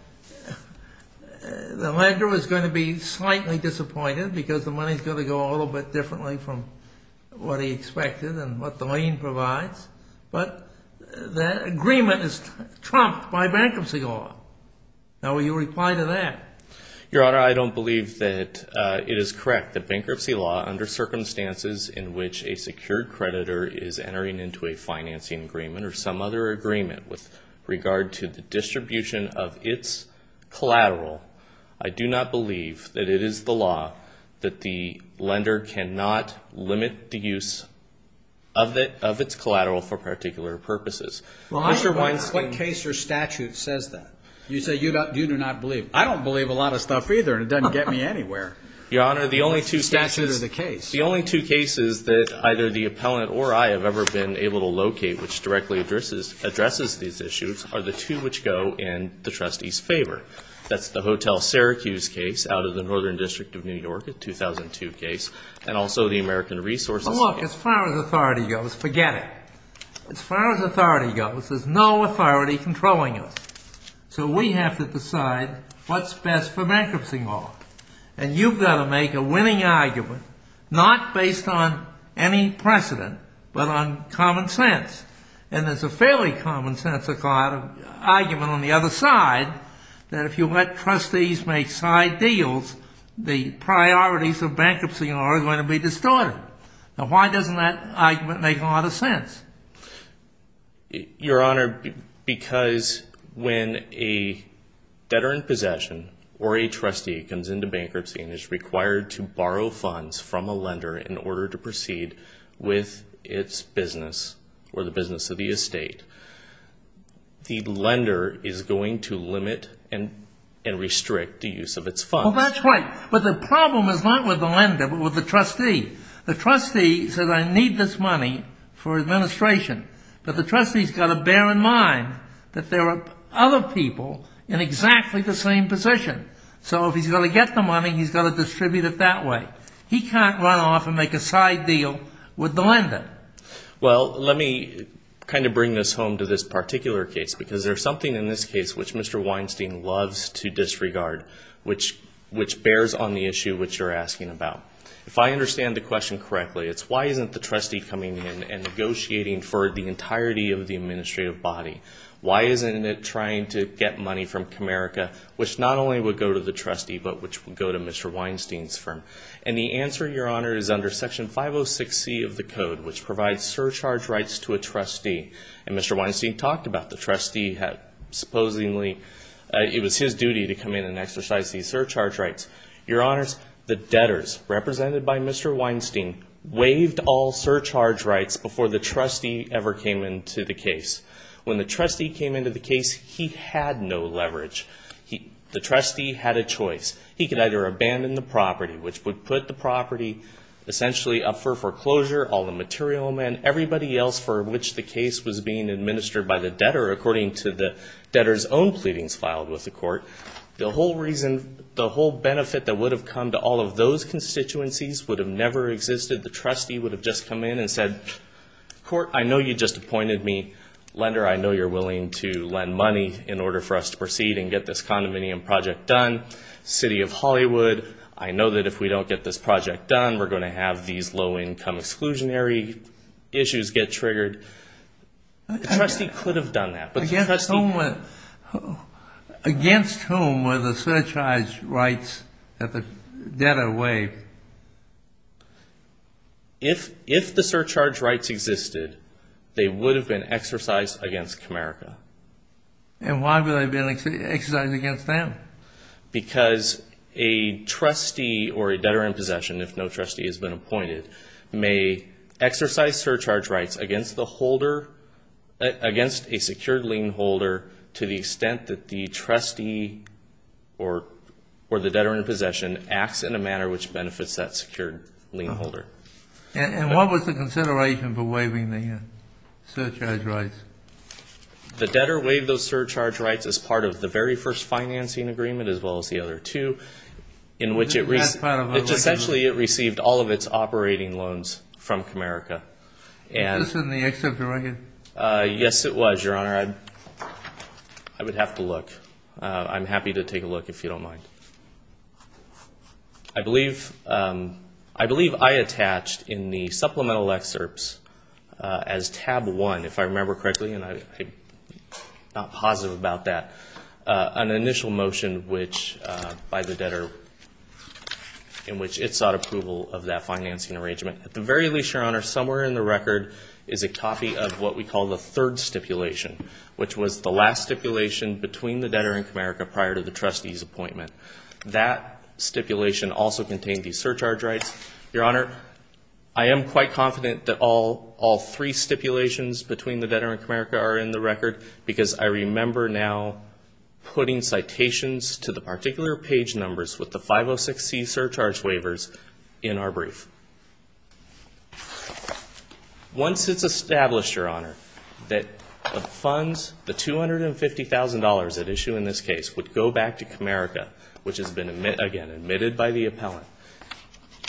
the lender is going to be slightly disappointed because the money is going to go a little bit differently from what he expected and what the lien provides. But the agreement is trumped by bankruptcy law. Now, will you reply to that? Your Honor, I don't believe that it is correct that bankruptcy law, under circumstances in which a secured creditor is entering into a financing agreement or some other agreement with regard to the distribution of its collateral, I do not believe that it is the law that the lender cannot limit the use of its collateral for particular purposes. What case or statute says that? You say you do not believe. I don't believe a lot of stuff either, and it doesn't get me anywhere. Your Honor, the only two statutes of the case. The only two cases that either the appellant or I have ever been able to locate which directly addresses these issues are the two which go in the trustee's favor. That's the Hotel Syracuse case out of the Northern District of New York, a 2002 case, and also the American Resource Act. Look, as far as authority goes, forget it. As far as authority goes, there's no authority controlling us. So we have to decide what's best for bankruptcy law. And you've got to make a winning argument, not based on any precedent, but on common sense. And there's a fairly common sense argument on the other side that if you let trustees make side deals, the priorities of bankruptcy law are going to be distorted. Now, why doesn't that argument make a lot of sense? Your Honor, because when a veteran possession or a trustee comes into bankruptcy and is required to borrow funds from a lender in order to proceed with its business or the business of the estate, the lender is going to limit and restrict the use of its funds. Well, that's right. But the problem is not with the lender but with the trustee. The trustee says, I need this money for administration, but the trustee's got to bear in mind that there are other people in exactly the same position. So if he's going to get the money, he's got to distribute it that way. He can't run off and make a side deal with the lender. Well, let me kind of bring this home to this particular case because there's something in this case which Mr. Weinstein loves to disregard, which bears on the issue which you're asking about. If I understand the question correctly, it's why isn't the trustee coming in and negotiating for the entirety of the administrative body? Why isn't it trying to get money from Comerica, which not only would go to the trustee but which would go to Mr. Weinstein's firm? And the answer, Your Honor, is under Section 506C of the Code, which provides surcharge rights to a trustee. And Mr. Weinstein talked about the trustee had supposedly – it was his duty to come in and exercise these surcharge rights. Your Honors, the debtors represented by Mr. Weinstein waived all surcharge rights before the trustee ever came into the case. When the trustee came into the case, he had no leverage. The trustee had a choice. He could either abandon the property, which would put the property essentially up for foreclosure, all the material, and everybody else for which the case was being administered by the debtor according to the debtor's own pleadings filed with the court. The whole benefit that would have come to all of those constituencies would have never existed. The trustee would have just come in and said, Court, I know you just appointed me lender. I know you're willing to lend money in order for us to proceed and get this condominium project done. City of Hollywood, I know that if we don't get this project done, we're going to have these low-income exclusionary issues get triggered. The trustee could have done that. Against whom were the surcharge rights that the debtor waived? If the surcharge rights existed, they would have been exercised against America. And why would they have been exercised against them? Because a trustee or a debtor in possession, if no trustee has been appointed, may exercise surcharge rights against a secured lien holder to the extent that the trustee or the debtor in possession acts in a manner which benefits that secured lien holder. And what was the consideration for waiving the surcharge rights? The debtor waived those surcharge rights as part of the very first financing agreement as well as the other two, in which essentially it received all of its operating loans from America. Was this in the excerpt from the record? Yes, it was, Your Honor. I would have to look. I'm happy to take a look if you don't mind. I believe I attached in the supplemental excerpts as tab one, if I remember correctly, and I'm not positive about that, an initial motion by the debtor in which it sought approval of that financing arrangement. At the very least, Your Honor, somewhere in the record is a copy of what we call the third stipulation, which was the last stipulation between the debtor and Comerica prior to the trustee's appointment. That stipulation also contained the surcharge rights. Your Honor, I am quite confident that all three stipulations between the debtor and Comerica are in the record because I remember now putting citations to the particular page numbers with the 506C surcharge waivers in our brief. Once it's established, Your Honor, that the funds, the $250,000 at issue in this case, would go back to Comerica, which has been, again, admitted by the appellant,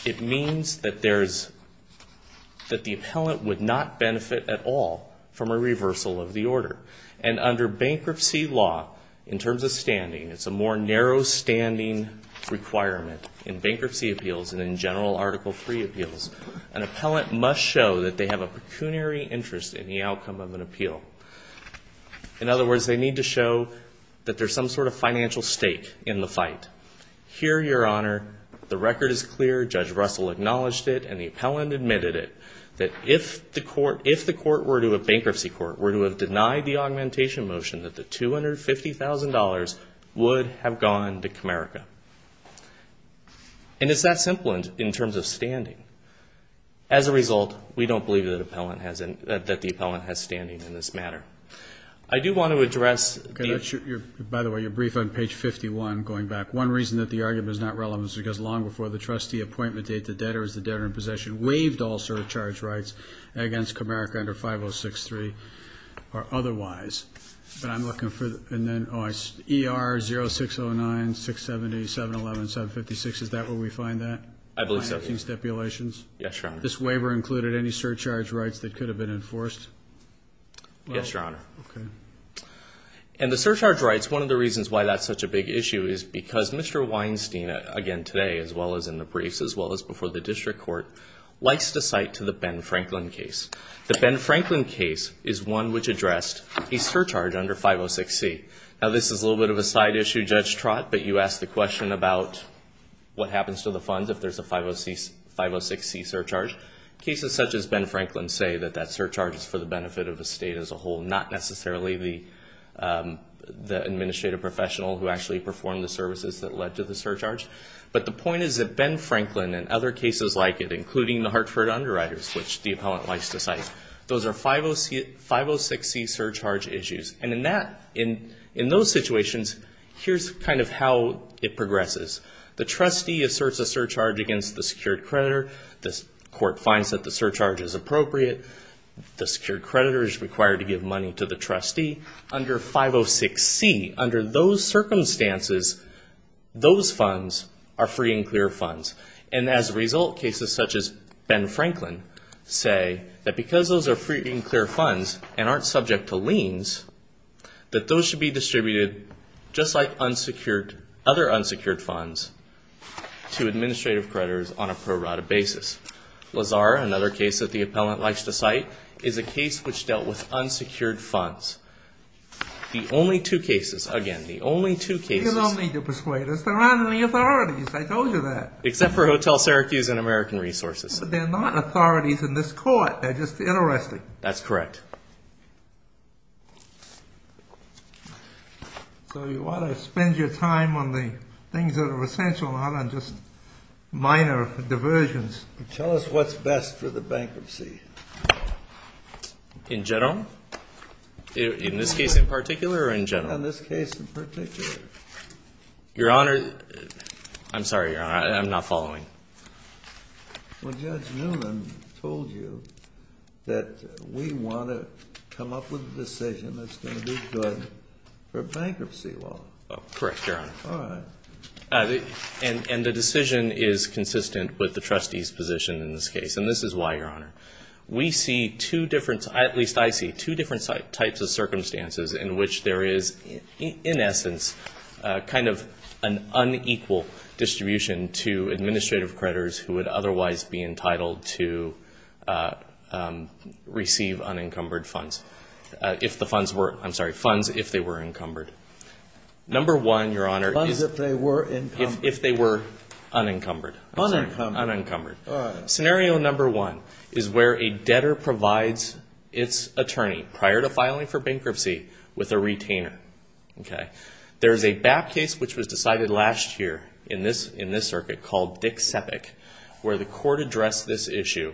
it means that the appellant would not benefit at all from a reversal of the order. And under bankruptcy law, in terms of standing, it's a more narrow standing requirement in bankruptcy appeals than in general Article III appeals. An appellant must show that they have a pecuniary interest in the outcome of an appeal. In other words, they need to show that there's some sort of financial stake in the fight. Here, Your Honor, the record is clear. Judge Russell acknowledged it, and the appellant admitted it, that if the court were to a bankruptcy court, were to have denied the augmentation motion, that the $250,000 would have gone to Comerica. And it's that simple in terms of standing. As a result, we don't believe that the appellant has standing in this matter. I do want to address... By the way, your brief on page 51, going back. One reason that the argument is not relevant is because long before the trustee appointment date, the debtor is the debtor in possession, waived all surcharge rights against Comerica under 506C or otherwise. But I'm looking for... And then ER 0609-670-711-756, is that where we find that? I believe so, yes. In stipulations? Yes, Your Honor. This waiver included any surcharge rights that could have been enforced? Yes, Your Honor. Okay. And the surcharge rights, one of the reasons why that's such a big issue, is because Mr. Weinstein, again today, as well as in the brief, as well as before the district court, likes to cite to the Ben Franklin case. The Ben Franklin case is one which addressed a surcharge under 506C. Now, this is a little bit of a side issue, Judge Trott, but you asked a question about what happens to the funds if there's a 506C surcharge. Cases such as Ben Franklin say that that surcharge is for the benefit of the state as a whole, not necessarily the administrative professional who actually performed the services that led to the surcharge. But the point is that Ben Franklin and other cases like it, including the Hartford underwriters, which the appellant likes to cite, those are 506C surcharge issues. And in those situations, here's kind of how it progresses. The trustee asserts a surcharge against the secured creditor. The court finds that the surcharge is appropriate. The secured creditor is required to give money to the trustee. Under 506C, under those circumstances, those funds are free and clear funds. And as a result, cases such as Ben Franklin say that because those are free and clear funds and aren't subject to liens, that those should be distributed just like other unsecured funds to administrative creditors on a pro rata basis. Lazar, another case that the appellant likes to cite, is a case which dealt with unsecured funds. The only two cases, again, the only two cases... Unsecured funds for Hotel Syracuse and American Resources. They're not authorities in this court. They're just interested. That's correct. So you want to spend your time on the things that are essential, not on just minor diversions. Tell us what's best for the bankruptcy. In general? In this case in particular or in general? In this case in particular. Your Honor, I'm sorry, Your Honor, I'm not following. Well, Judge Newman told you that we want to come up with a decision that's going to be good for bankruptcy law. Correct, Your Honor. All right. And the decision is consistent with the trustee's position in this case. And this is why, Your Honor. We see two different, at least I see, two different types of circumstances in which there is, in essence, kind of an unequal distribution to administrative creditors who would otherwise be entitled to receive unencumbered funds. If the funds were, I'm sorry, funds if they were encumbered. Number one, Your Honor... Funds if they were encumbered. If they were unencumbered. Unencumbered. Unencumbered. All right. So, scenario number one is where a debtor provides its attorney prior to filing for bankruptcy with a retainer. Okay. There's a BAP case which was decided last year in this circuit called Dick Sepik where the court addressed this issue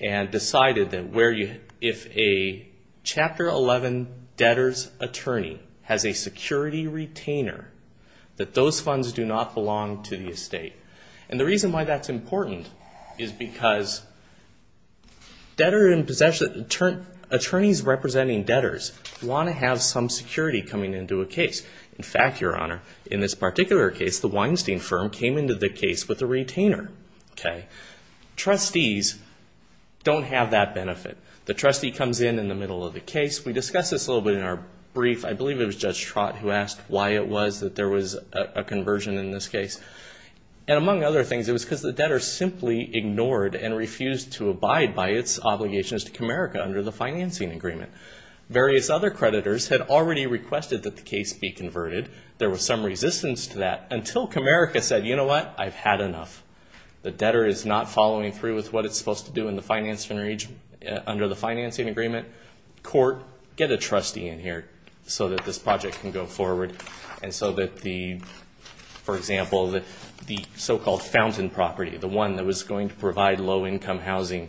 and decided that if a Chapter 11 debtor's attorney has a security retainer, that those funds do not belong to the estate. And the reason why that's important is because attorneys representing debtors want to have some security coming into a case. In fact, Your Honor, in this particular case, the Weinstein firm came into the case with a retainer. Okay. Trustees don't have that benefit. The trustee comes in in the middle of the case. We discussed this a little bit in our brief. I believe it was Judge Trott who asked why it was that there was a conversion in this case. And among other things, it was because the debtor simply ignored and refused to abide by its obligations to Comerica under the financing agreement. Various other creditors had already requested that the case be converted. There was some resistance to that until Comerica said, you know what? I've had enough. The debtor is not following through with what it's supposed to do under the financing agreement. He said, court, get a trustee in here so that this project can go forward and so that the, for example, the so-called fountain property, the one that was going to provide low-income housing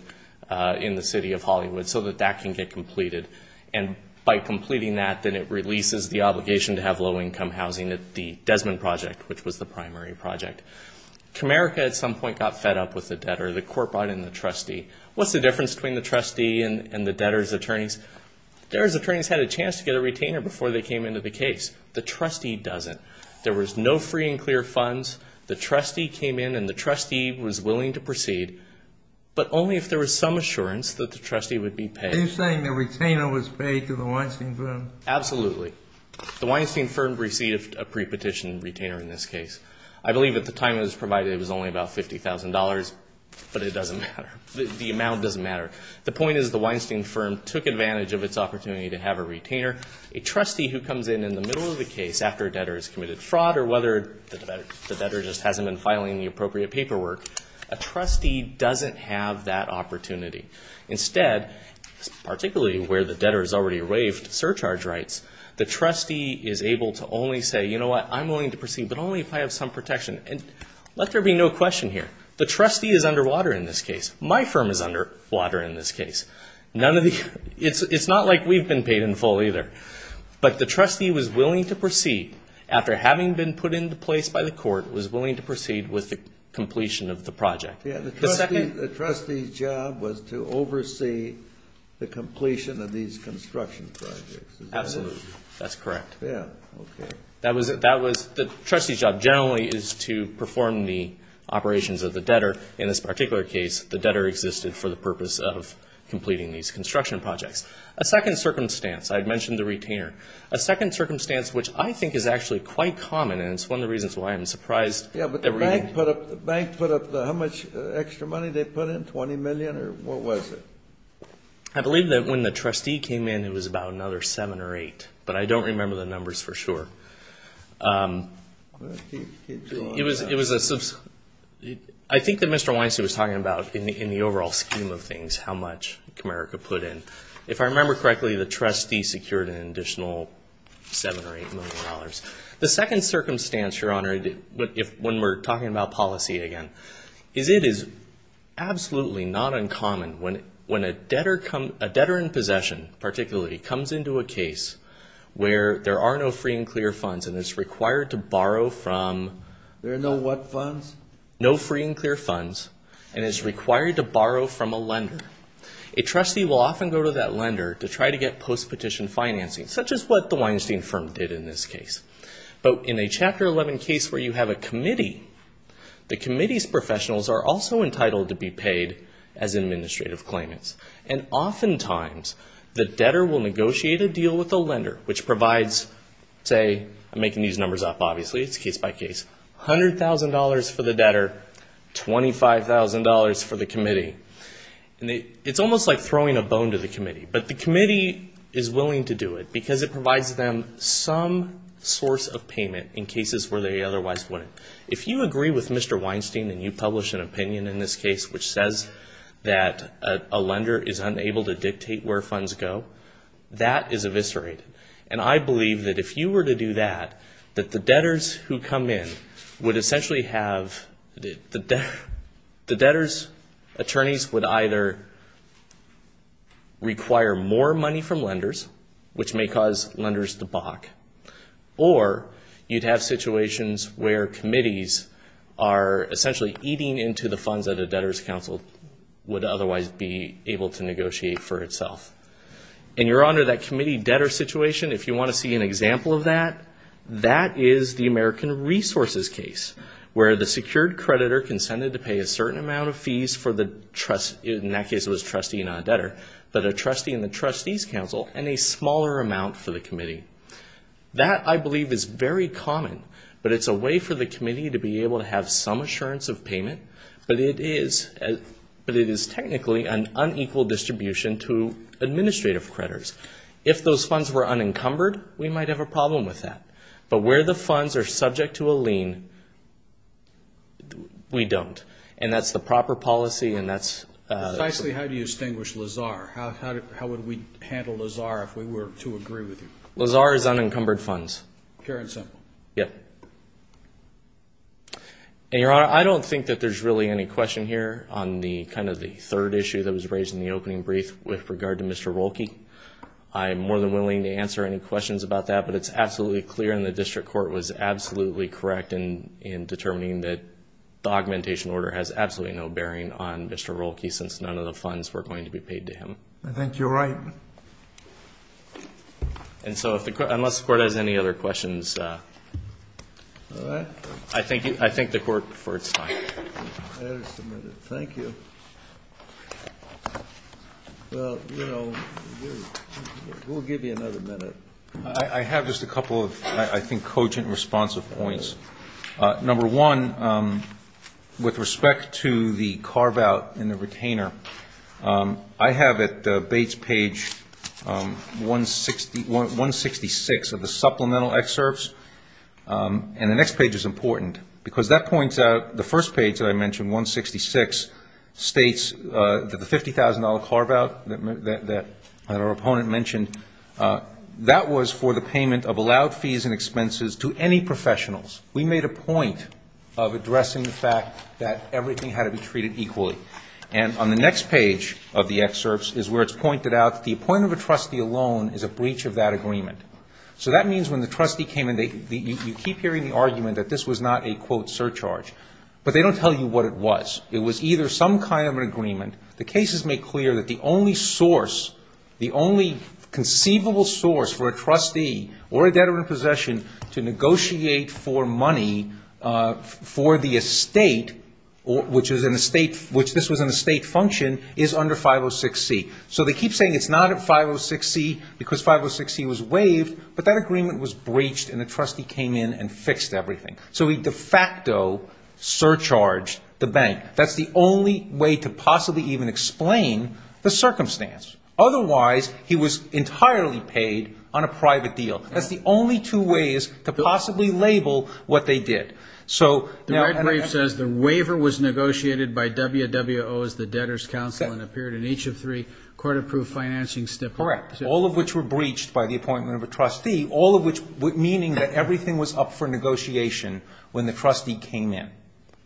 in the city of Hollywood, so that that can get completed. And by completing that, then it releases the obligation to have low-income housing. It's the Desmond Project, which was the primary project. Comerica at some point got fed up with the debtor. The court brought in the trustee. What's the difference between the trustee and the debtor's attorneys? Debtor's attorneys had a chance to get a retainer before they came into the case. The trustee doesn't. There was no free and clear funds. The trustee came in and the trustee was willing to proceed, but only if there was some assurance that the trustee would be paid. Are you saying the retainer was paid to the Weinstein firm? Absolutely. The Weinstein firm received a prepetition retainer in this case. I believe at the time it was provided it was only about $50,000, but it doesn't matter. The amount doesn't matter. The point is the Weinstein firm took advantage of its opportunity to have a retainer. A trustee who comes in in the middle of the case after a debtor has committed fraud or whether the debtor just hasn't been filing the appropriate paperwork, a trustee doesn't have that opportunity. Instead, particularly where the debtor has already waived surcharge rights, the trustee is able to only say, you know what, I'm willing to proceed, but only if I have some protection. And let there be no question here. The trustee is underwater in this case. My firm is underwater in this case. It's not like we've been paid in full either. But the trustee was willing to proceed after having been put into place by the court, was willing to proceed with the completion of the project. The trustee's job was to oversee the completion of these construction projects. Absolutely, that's correct. The trustee's job generally is to perform the operations of the debtor. In this particular case, the debtor existed for the purpose of completing these construction projects. A second circumstance, I'd mentioned the retainer. A second circumstance which I think is actually quite common and it's one of the reasons why I'm surprised. Banks put up how much extra money they put in, $20 million or what was it? I believe that when the trustee came in, it was about another $7 or $8. But I don't remember the numbers for sure. I think that Mr. Weinstein was talking about in the overall scheme of things how much Comerica put in. If I remember correctly, the trustee secured an additional $7 or $8 million. The second circumstance, Your Honor, when we're talking about policy again, it is absolutely not uncommon when a debtor in possession particularly comes into a case where there are no free and clear funds and it's required to borrow from... There are no what funds? No free and clear funds and it's required to borrow from a lender. A trustee will often go to that lender to try to get post-petition financing, such as what the Weinstein firm did in this case. In a Chapter 11 case where you have a committee, the committee's professionals are also entitled to be paid as administrative claimants. And oftentimes, the debtor will negotiate a deal with the lender, which provides, say, I'm making these numbers up obviously, it's case by case, $100,000 for the debtor, $25,000 for the committee. It's almost like throwing a bone to the committee. But the committee is willing to do it because it provides them some source of payment in cases where they otherwise wouldn't. If you agree with Mr. Weinstein and you publish an opinion in this case which says that a lender is unable to dictate where funds go, that is eviscerated. And I believe that if you were to do that, that the debtors who come in would essentially have... the debtors' attorneys would either require more money from lenders, which may cause lenders to balk, or you'd have situations where committees are essentially eating into the funds that a debtors' council would otherwise be able to negotiate for itself. And you're under that committee-debtor situation. If you want to see an example of that, that is the American Resources case, where the secured creditor consented to pay a certain amount of fees for the trustee, in that case it was a trustee, not a debtor, but a trustee in the trustees' council and a smaller amount for the committee. That, I believe, is very common, but it's a way for the committee to be able to have some assurance of payment, but it is technically an unequal distribution to administrative creditors. If those funds were unencumbered, we might have a problem with that. But where the funds are subject to a lien, we don't. And that's the proper policy, and that's... Precisely how do you distinguish LAZAR? How would we handle LAZAR if we were to agree with you? LAZAR is unencumbered funds. Fair and simple. Yes. And, Your Honor, I don't think that there's really any question here on kind of the third issue that was raised in the opening brief with regard to Mr. Roelke. I'm more than willing to answer any questions about that, but it's absolutely clear and the district court was absolutely correct in determining that the augmentation order has absolutely no bearing on Mr. Roelke since none of the funds were going to be paid to him. I think you're right. And so unless the court has any other questions, I think the court's fine. Thank you. Well, you know, we'll give you another minute. I have just a couple of, I think, cogent responsive points. Number one, with respect to the carve-out in the retainer, I have at Bates page 166 of the supplemental excerpts, and the next page is important because that points out the first page that I mentioned, 166, states that the $50,000 carve-out that our opponent mentioned, that was for the payment of allowed fees and expenses to any professionals. We made a point of addressing the fact that everything had to be treated equally. And on the next page of the excerpts is where it's pointed out the appointment of a trustee alone is a breach of that agreement. So that means when the trustee came in, you keep hearing the argument that this was not a, quote, surcharge, but they don't tell you what it was. It was either some kind of an agreement. The case is made clear that the only source, the only conceivable source for a trustee or a debtor in possession to negotiate for money for the estate, which this was an estate function, is under 506C. So they keep saying it's not at 506C because 506C was waived, but that agreement was breached and the trustee came in and fixed everything. So he de facto surcharged the bank. That's the only way to possibly even explain the circumstance. Otherwise, he was entirely paid on a private deal. That's the only two ways to possibly label what they did. So, and I agree, it says the waiver was negotiated by WWO as the debtor's council and appeared in each of three court-approved financing snippets. Correct. All of which were breached by the appointment of a trustee, all of which meaning that everything was up for negotiation when the trustee came in.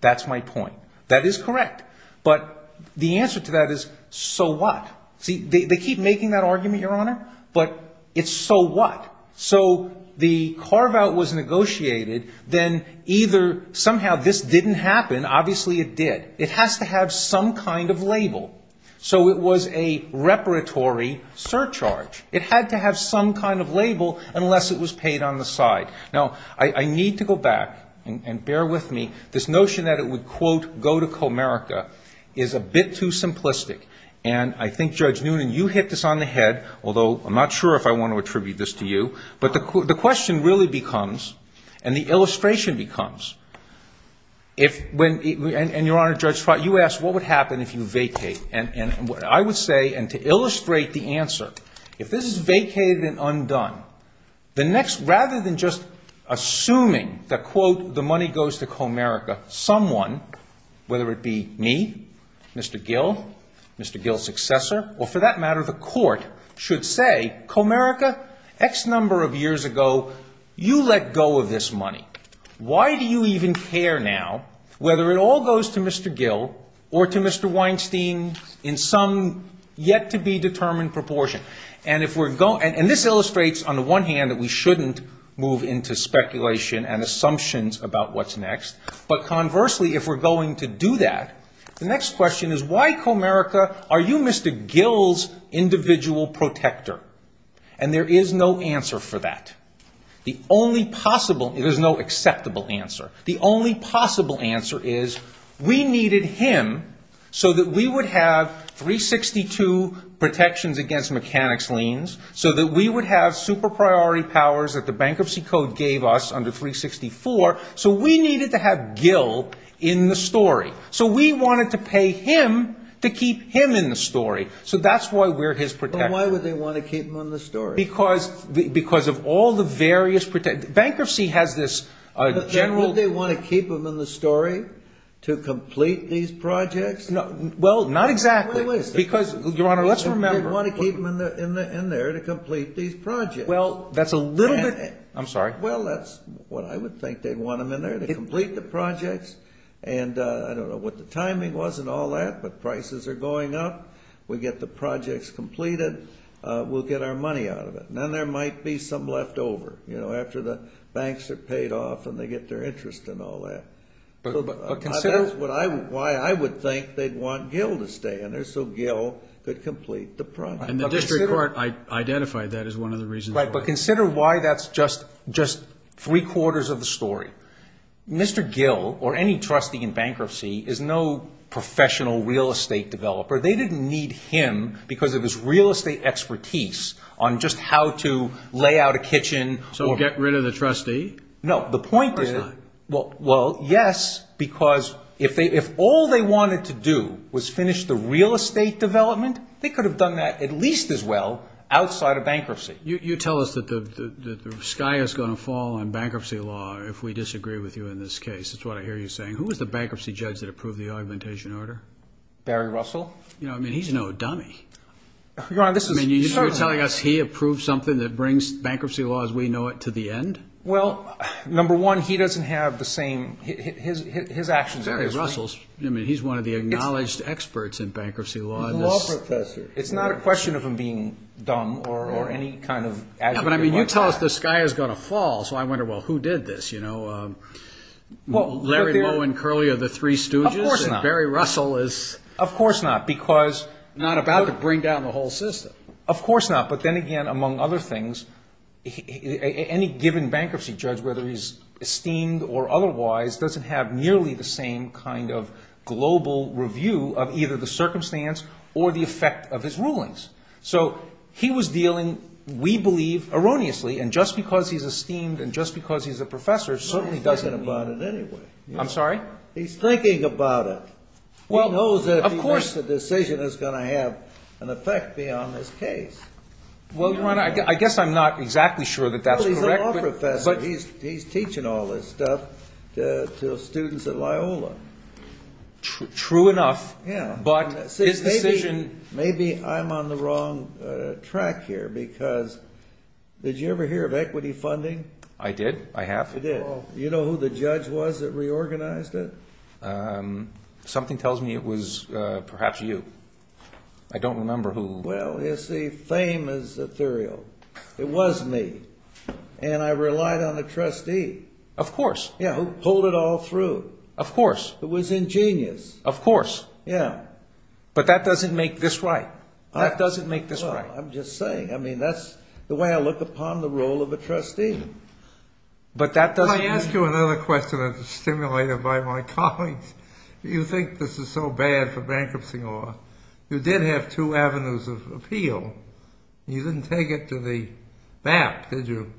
That's my point. That is correct. But the answer to that is, so what? See, they keep making that argument, Your Honor, but it's so what? So the carve-out was negotiated, then either somehow this didn't happen, obviously it did. It has to have some kind of label. So it was a reparatory surcharge. It had to have some kind of label unless it was paid on the side. Now, I need to go back, and bear with me. This notion that it would, quote, go to Comerica is a bit too simplistic. And I think, Judge Noonan, you hit this on the head, although I'm not sure if I want to attribute this to you. But the question really becomes, and the illustration becomes, if when, and Your Honor, you asked what would happen if you vacate. And what I would say, and to illustrate the answer, if this is vacated and undone, rather than just assuming that, quote, the money goes to Comerica, someone, whether it be me, Mr. Gill, Mr. Gill's successor, or for that matter the court, should say, Comerica, X number of years ago, you let go of this money. Now, why do you even care now whether it all goes to Mr. Gill or to Mr. Weinstein in some yet-to-be-determined proportion? And this illustrates, on the one hand, that we shouldn't move into speculation and assumptions about what's next. But conversely, if we're going to do that, the next question is, why, Comerica, are you Mr. Gill's individual protector? And there is no answer for that. The only possible, there's no acceptable answer. The only possible answer is, we needed him so that we would have 362 protections against mechanics liens, so that we would have super priority powers that the Bankruptcy Code gave us under 364, so we needed to have Gill in the story. So we wanted to pay him to keep him in the story. So that's why we're his protector. Well, why would they want to keep him in the story? Because of all the various protections. Bankruptcy has this general... Why would they want to keep him in the story? To complete these projects? Well, not exactly. Because, Your Honor, let's remember... They want to keep him in there to complete these projects. Well, that's a little bit... I'm sorry. Well, that's what I would think. They want him in there to complete the projects. And I don't know what the timing was and all that, but prices are going up. We get the projects completed. We'll get our money out of it. And then there might be some left over, you know, after the banks are paid off and they get their interest and all that. But consider... That's why I would think they'd want Gill to stay in there, so Gill could complete the project. And the District Court identified that as one of the reasons... Right, but consider why that's just three-quarters of the story. Mr. Gill, or any trustee in bankruptcy, is no professional real estate developer. They didn't need him because of his real estate expertise on just how to lay out a kitchen. So get rid of the trustee? No, the point is... Well, yes, because if all they wanted to do was finish the real estate development, they could have done that at least as well outside of bankruptcy. You tell us that the sky is going to fall in bankruptcy law if we disagree with you in this case. That's what I hear you saying. Who was the bankruptcy judge that approved the augmentation order? Barry Russell. You know, I mean, he's no dummy. Your Honor, this is... You're telling us he approved something that brings bankruptcy law as we know it to the end? Well, number one, he doesn't have the same... His actions... Exactly. Russell's... I mean, he's one of the acknowledged experts in bankruptcy law. He's a law professor. It's not a question of him being dumb or any kind of... But, I mean, you tell us the sky is going to fall, Larry Lew and Curley are the three students. Of course not. Barry Russell is... Of course not, because... Not about to bring down the whole system. Of course not. But then again, among other things, any given bankruptcy judge, whether he's esteemed or otherwise, doesn't have nearly the same kind of global review of either the circumstance or the effect of his rulings. So, he was dealing, we believe, erroneously, and just because he's esteemed and just because he's a professor, certainly doesn't... He's thinking about it anyway. I'm sorry? He's thinking about it. Well, of course... He knows that the decision is going to have an effect beyond his case. Well, Your Honor, I guess I'm not exactly sure that that's correct, but... Well, he's a law professor. He's teaching all this stuff to students at Loyola. True enough, but his decision... Maybe I'm on the wrong track here, because did you ever hear of equity funding? I did. I have. You did. Something tells me it was perhaps you. I don't remember who... Well, you see, fame is ethereal. It was me, and I relied on a trustee. Of course. Who pulled it all through. Of course. Who was ingenious. Of course. Yeah. But that doesn't make this right. That doesn't make this right. I'm just saying. I mean, that's the way I look upon the role of a trustee. But that doesn't... I'll ask you another question that's stimulated by my colleagues. You think this is so bad for bankruptcy law. You did have two avenues of appeal. You didn't take it to the BAP, did you?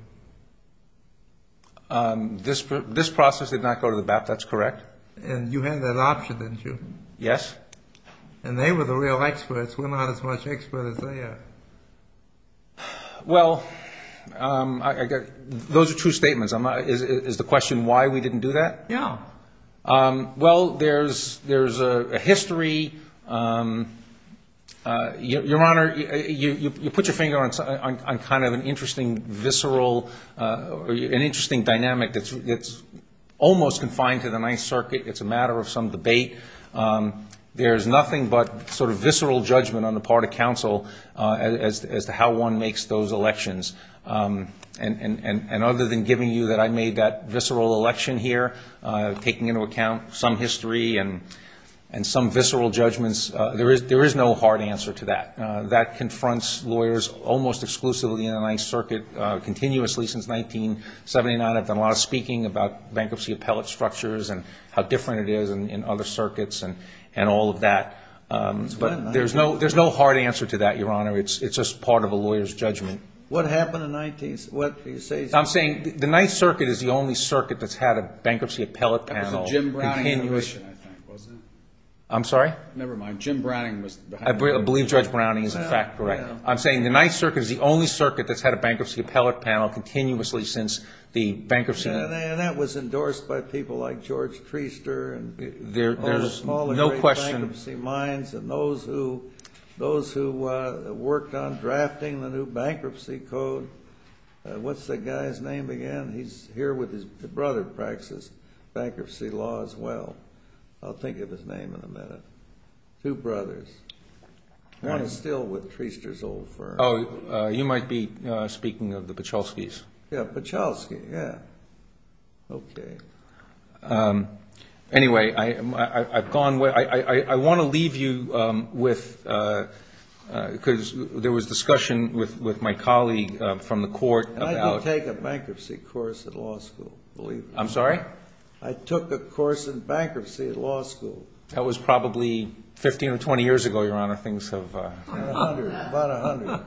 This process did not go to the BAP. That's correct. And you had that option, didn't you? Yes. And they were the real experts. We're not as much experts as they are. Well, those are true statements. Is the question why we didn't do that? Yeah. Well, there's a history. Your Honor, you put your finger on kind of an interesting visceral, an interesting dynamic that's almost confined to the Ninth Circuit. It's a matter of some debate. There's nothing but sort of visceral judgment on the part of counsel as to how one makes those elections. And other than giving you that I made that visceral election here, taking into account some history and some visceral judgments, there is no hard answer to that. That confronts lawyers almost exclusively in the Ninth Circuit, continuously since 1979. I've done a lot of speaking about bankruptcy appellate structures and how different it is in other circuits and all of that. But there's no hard answer to that, Your Honor. It's just part of a lawyer's judgment. What happened in the 19th? What do you say? I'm saying the Ninth Circuit is the only circuit that's had a bankruptcy appellate panel. Jim Browning was behind it. I'm sorry? Never mind. Jim Browning was behind it. I believe Judge Browning is, in fact, correct. I'm saying the Ninth Circuit is the only circuit that's had a bankruptcy appellate panel continuously since the bankruptcy. And that was endorsed by people like George Treaster and all the small and great bankruptcy minds and those who worked on drafting the new bankruptcy code. What's the guy's name again? He's here with his brother who practices bankruptcy law as well. I'll think of his name in a minute. Two brothers. I'm still with Treaster's old firm. Oh, you might be speaking of the Pachulskis. Yeah, Pachulski, yeah. Okay. Anyway, I want to leave you with, because there was discussion with my colleague from the court. I did take a bankruptcy course at law school. I'm sorry? I took a course in bankruptcy at law school. That was probably 15 or 20 years ago, Your Honor. About 100.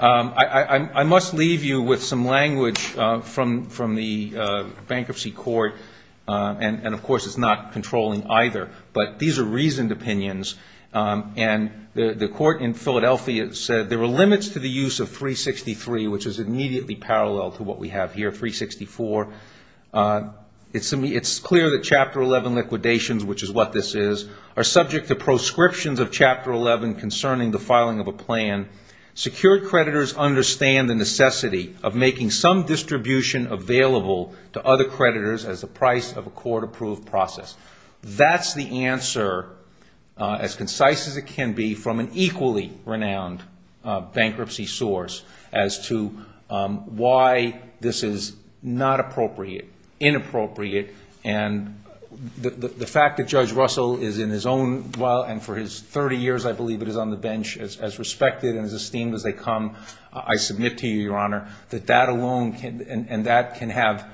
I must leave you with some language from the bankruptcy court. And, of course, it's not controlling either. But these are reasoned opinions. And the court in Philadelphia said there were limits to the use of 363, which is immediately parallel to what we have here, 364. It's clear that Chapter 11 liquidations, which is what this is, are subject to proscriptions of Chapter 11 concerning the filing of a plan. Secured creditors understand the necessity of making some distribution available to other creditors as the price of a court-approved process. That's the answer, as concise as it can be, from an equally renowned bankruptcy source as to why this is not appropriate, inappropriate. And the fact that Judge Russell is in his own, well, and for his 30 years, I believe, that he's on the bench as respected and as esteemed as they come, I submit to you, Your Honor, that that alone, and that can have,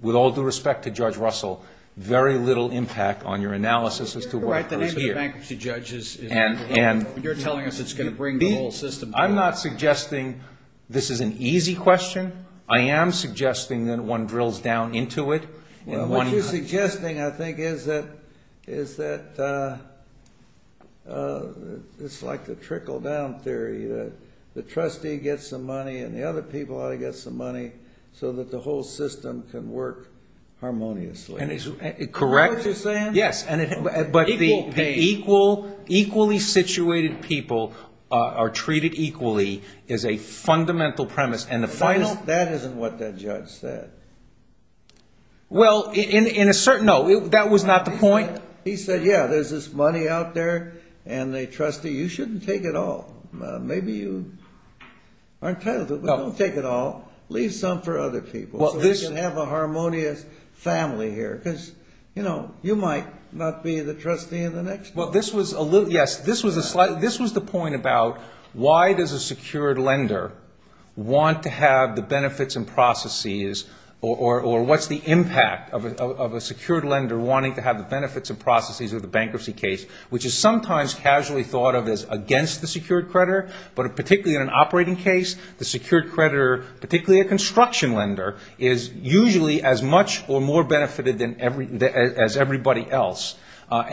with all due respect to Judge Russell, very little impact on your analysis as to why it's here. You're right. The name of the bankruptcy judge is, you're telling us it's going to bring the whole system together. I'm not suggesting this is an easy question. I am suggesting that one drills down into it. What you're suggesting, I think, is that it's like the trickle-down theory, that the trustee gets the money and the other people ought to get some money so that the whole system can work harmoniously. Correct. Is that what you're saying? Yes. But the equally situated people are treated equally is a fundamental premise, and the final... That isn't what that judge said. Well, in a certain, no, that was not the point. He said, yeah, there's this money out there, and the trustee, you shouldn't take it all. Maybe you aren't entitled to it, but don't take it all. Leave some for other people so we can have a harmonious family here, because, you know, you might not be the trustee in the next place. Yes, this was the point about why does a secured lender want to have the benefits and processes, or what's the impact of a secured lender wanting to have the benefits and processes of the bankruptcy case, which is sometimes casually thought of as against the secured creditor, but particularly in an operating case, the secured creditor, particularly a construction lender, is usually as much or more benefited as everybody else. So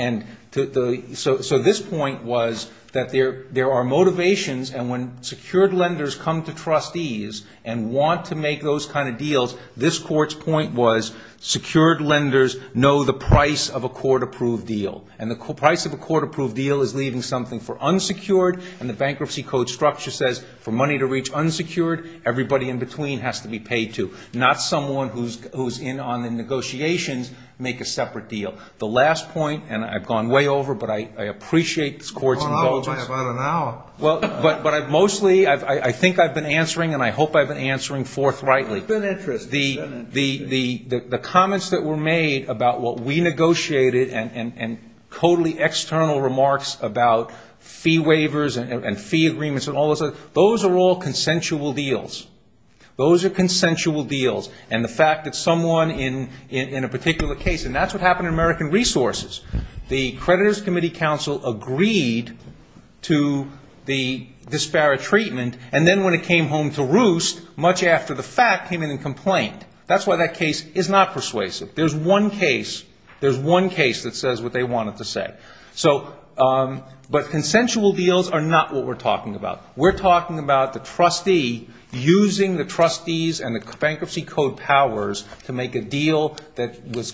this point was that there are motivations, and when secured lenders come to trustees and want to make those kind of deals, this court's point was secured lenders know the price of a court-approved deal, and the price of a court-approved deal is leaving something for unsecured, and the Bankruptcy Code structure says for money to reach unsecured, everybody in between has to be paid to, not someone who's in on the negotiations make a separate deal. So the last point, and I've gone way over, but I appreciate this court's indulgence. But mostly, I think I've been answering, and I hope I've been answering forthrightly. The comments that were made about what we negotiated, and totally external remarks about fee waivers and fee agreements and all of this, those are all consensual deals. Those are consensual deals, and the fact that someone in a particular case, and that's what happened in American Resources. The creditors' committee council agreed to the disparate treatment, and then when it came home to roost, much after the fact, came in and complained. That's why that case is not persuasive. There's one case that says what they wanted to say. But consensual deals are not what we're talking about. We're talking about the trustee using the trustee's and the Bankruptcy Code powers to make a deal that was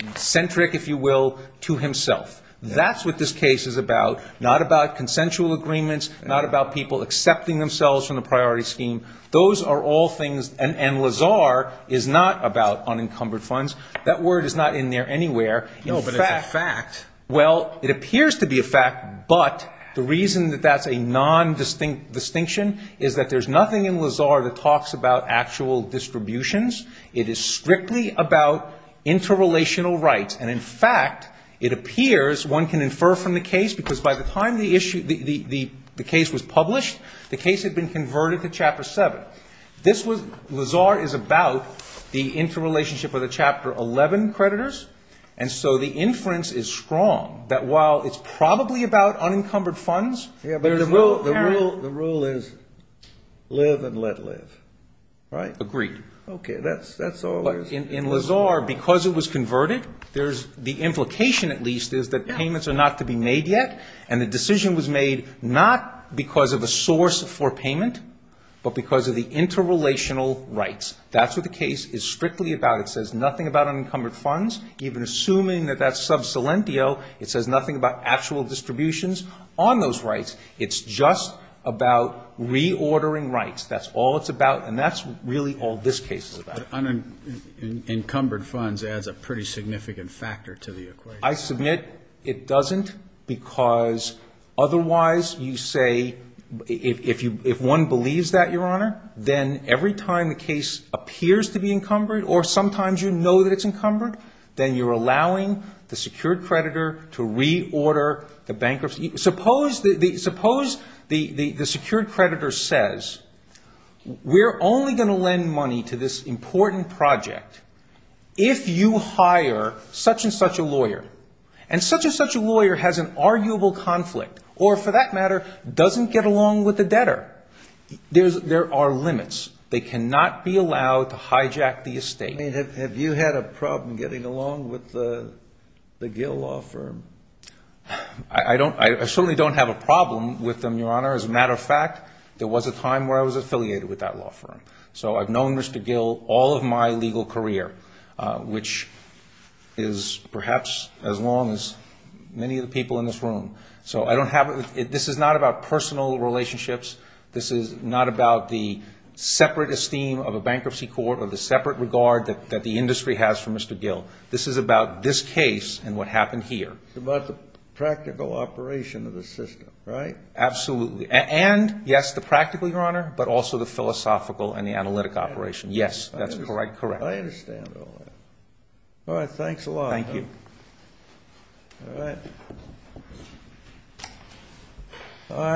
eccentric, if you will, to himself. That's what this case is about, not about consensual agreements, not about people accepting themselves from the priority scheme. Those are all things, and Lazar is not about unencumbered funds. That word is not in there anywhere. No, but it's a fact. Well, it appears to be a fact, but the reason that that's a nondistinct distinction is that there's nothing in Lazar that talks about actual distributions. It is strictly about interrelational rights, and in fact, it appears one can infer from the case because by the time the case was published, the case had been converted to Chapter 7. Lazar is about the interrelationship of the Chapter 11 creditors, and so the inference is strong that while it's probably about unencumbered funds, The rule is live and let live, right? Agreed. Okay, that's all there is. In Lazar, because it was converted, the implication at least is that payments are not to be made yet, and the decision was made not because of a source for payment, but because of the interrelational rights. That's what the case is strictly about. It says nothing about unencumbered funds, even assuming that that's sub silentio. It says nothing about actual distributions on those rights. It's just about reordering rights. That's all it's about, and that's really all this case is about. Unencumbered funds adds a pretty significant factor to the equation. I submit it doesn't because otherwise you say if one believes that, Your Honor, then every time the case appears to be encumbered or sometimes you know that it's encumbered, then you're allowing the secured creditor to reorder the bankruptcy. Suppose the secured creditor says, We're only going to lend money to this important project if you hire such and such a lawyer. And such and such a lawyer has an arguable conflict, or for that matter, doesn't get along with the debtor. There are limits. They cannot be allowed to hijack the estate. Have you had a problem getting along with the Gill law firm? I certainly don't have a problem with them, Your Honor. As a matter of fact, there was a time where I was affiliated with that law firm. So I've known Mr. Gill all of my legal career, which is perhaps as long as many of the people in this room. This is not about personal relationships. This is not about the separate esteem of a bankruptcy court or the separate regard that the industry has for Mr. Gill. This is about this case and what happened here. It's about the practical operation of the system, right? Absolutely. And, yes, the practical, Your Honor, but also the philosophical and the analytic operations. Yes, that's correct. I understand all that. All right. Thanks a lot. Thank you. All right.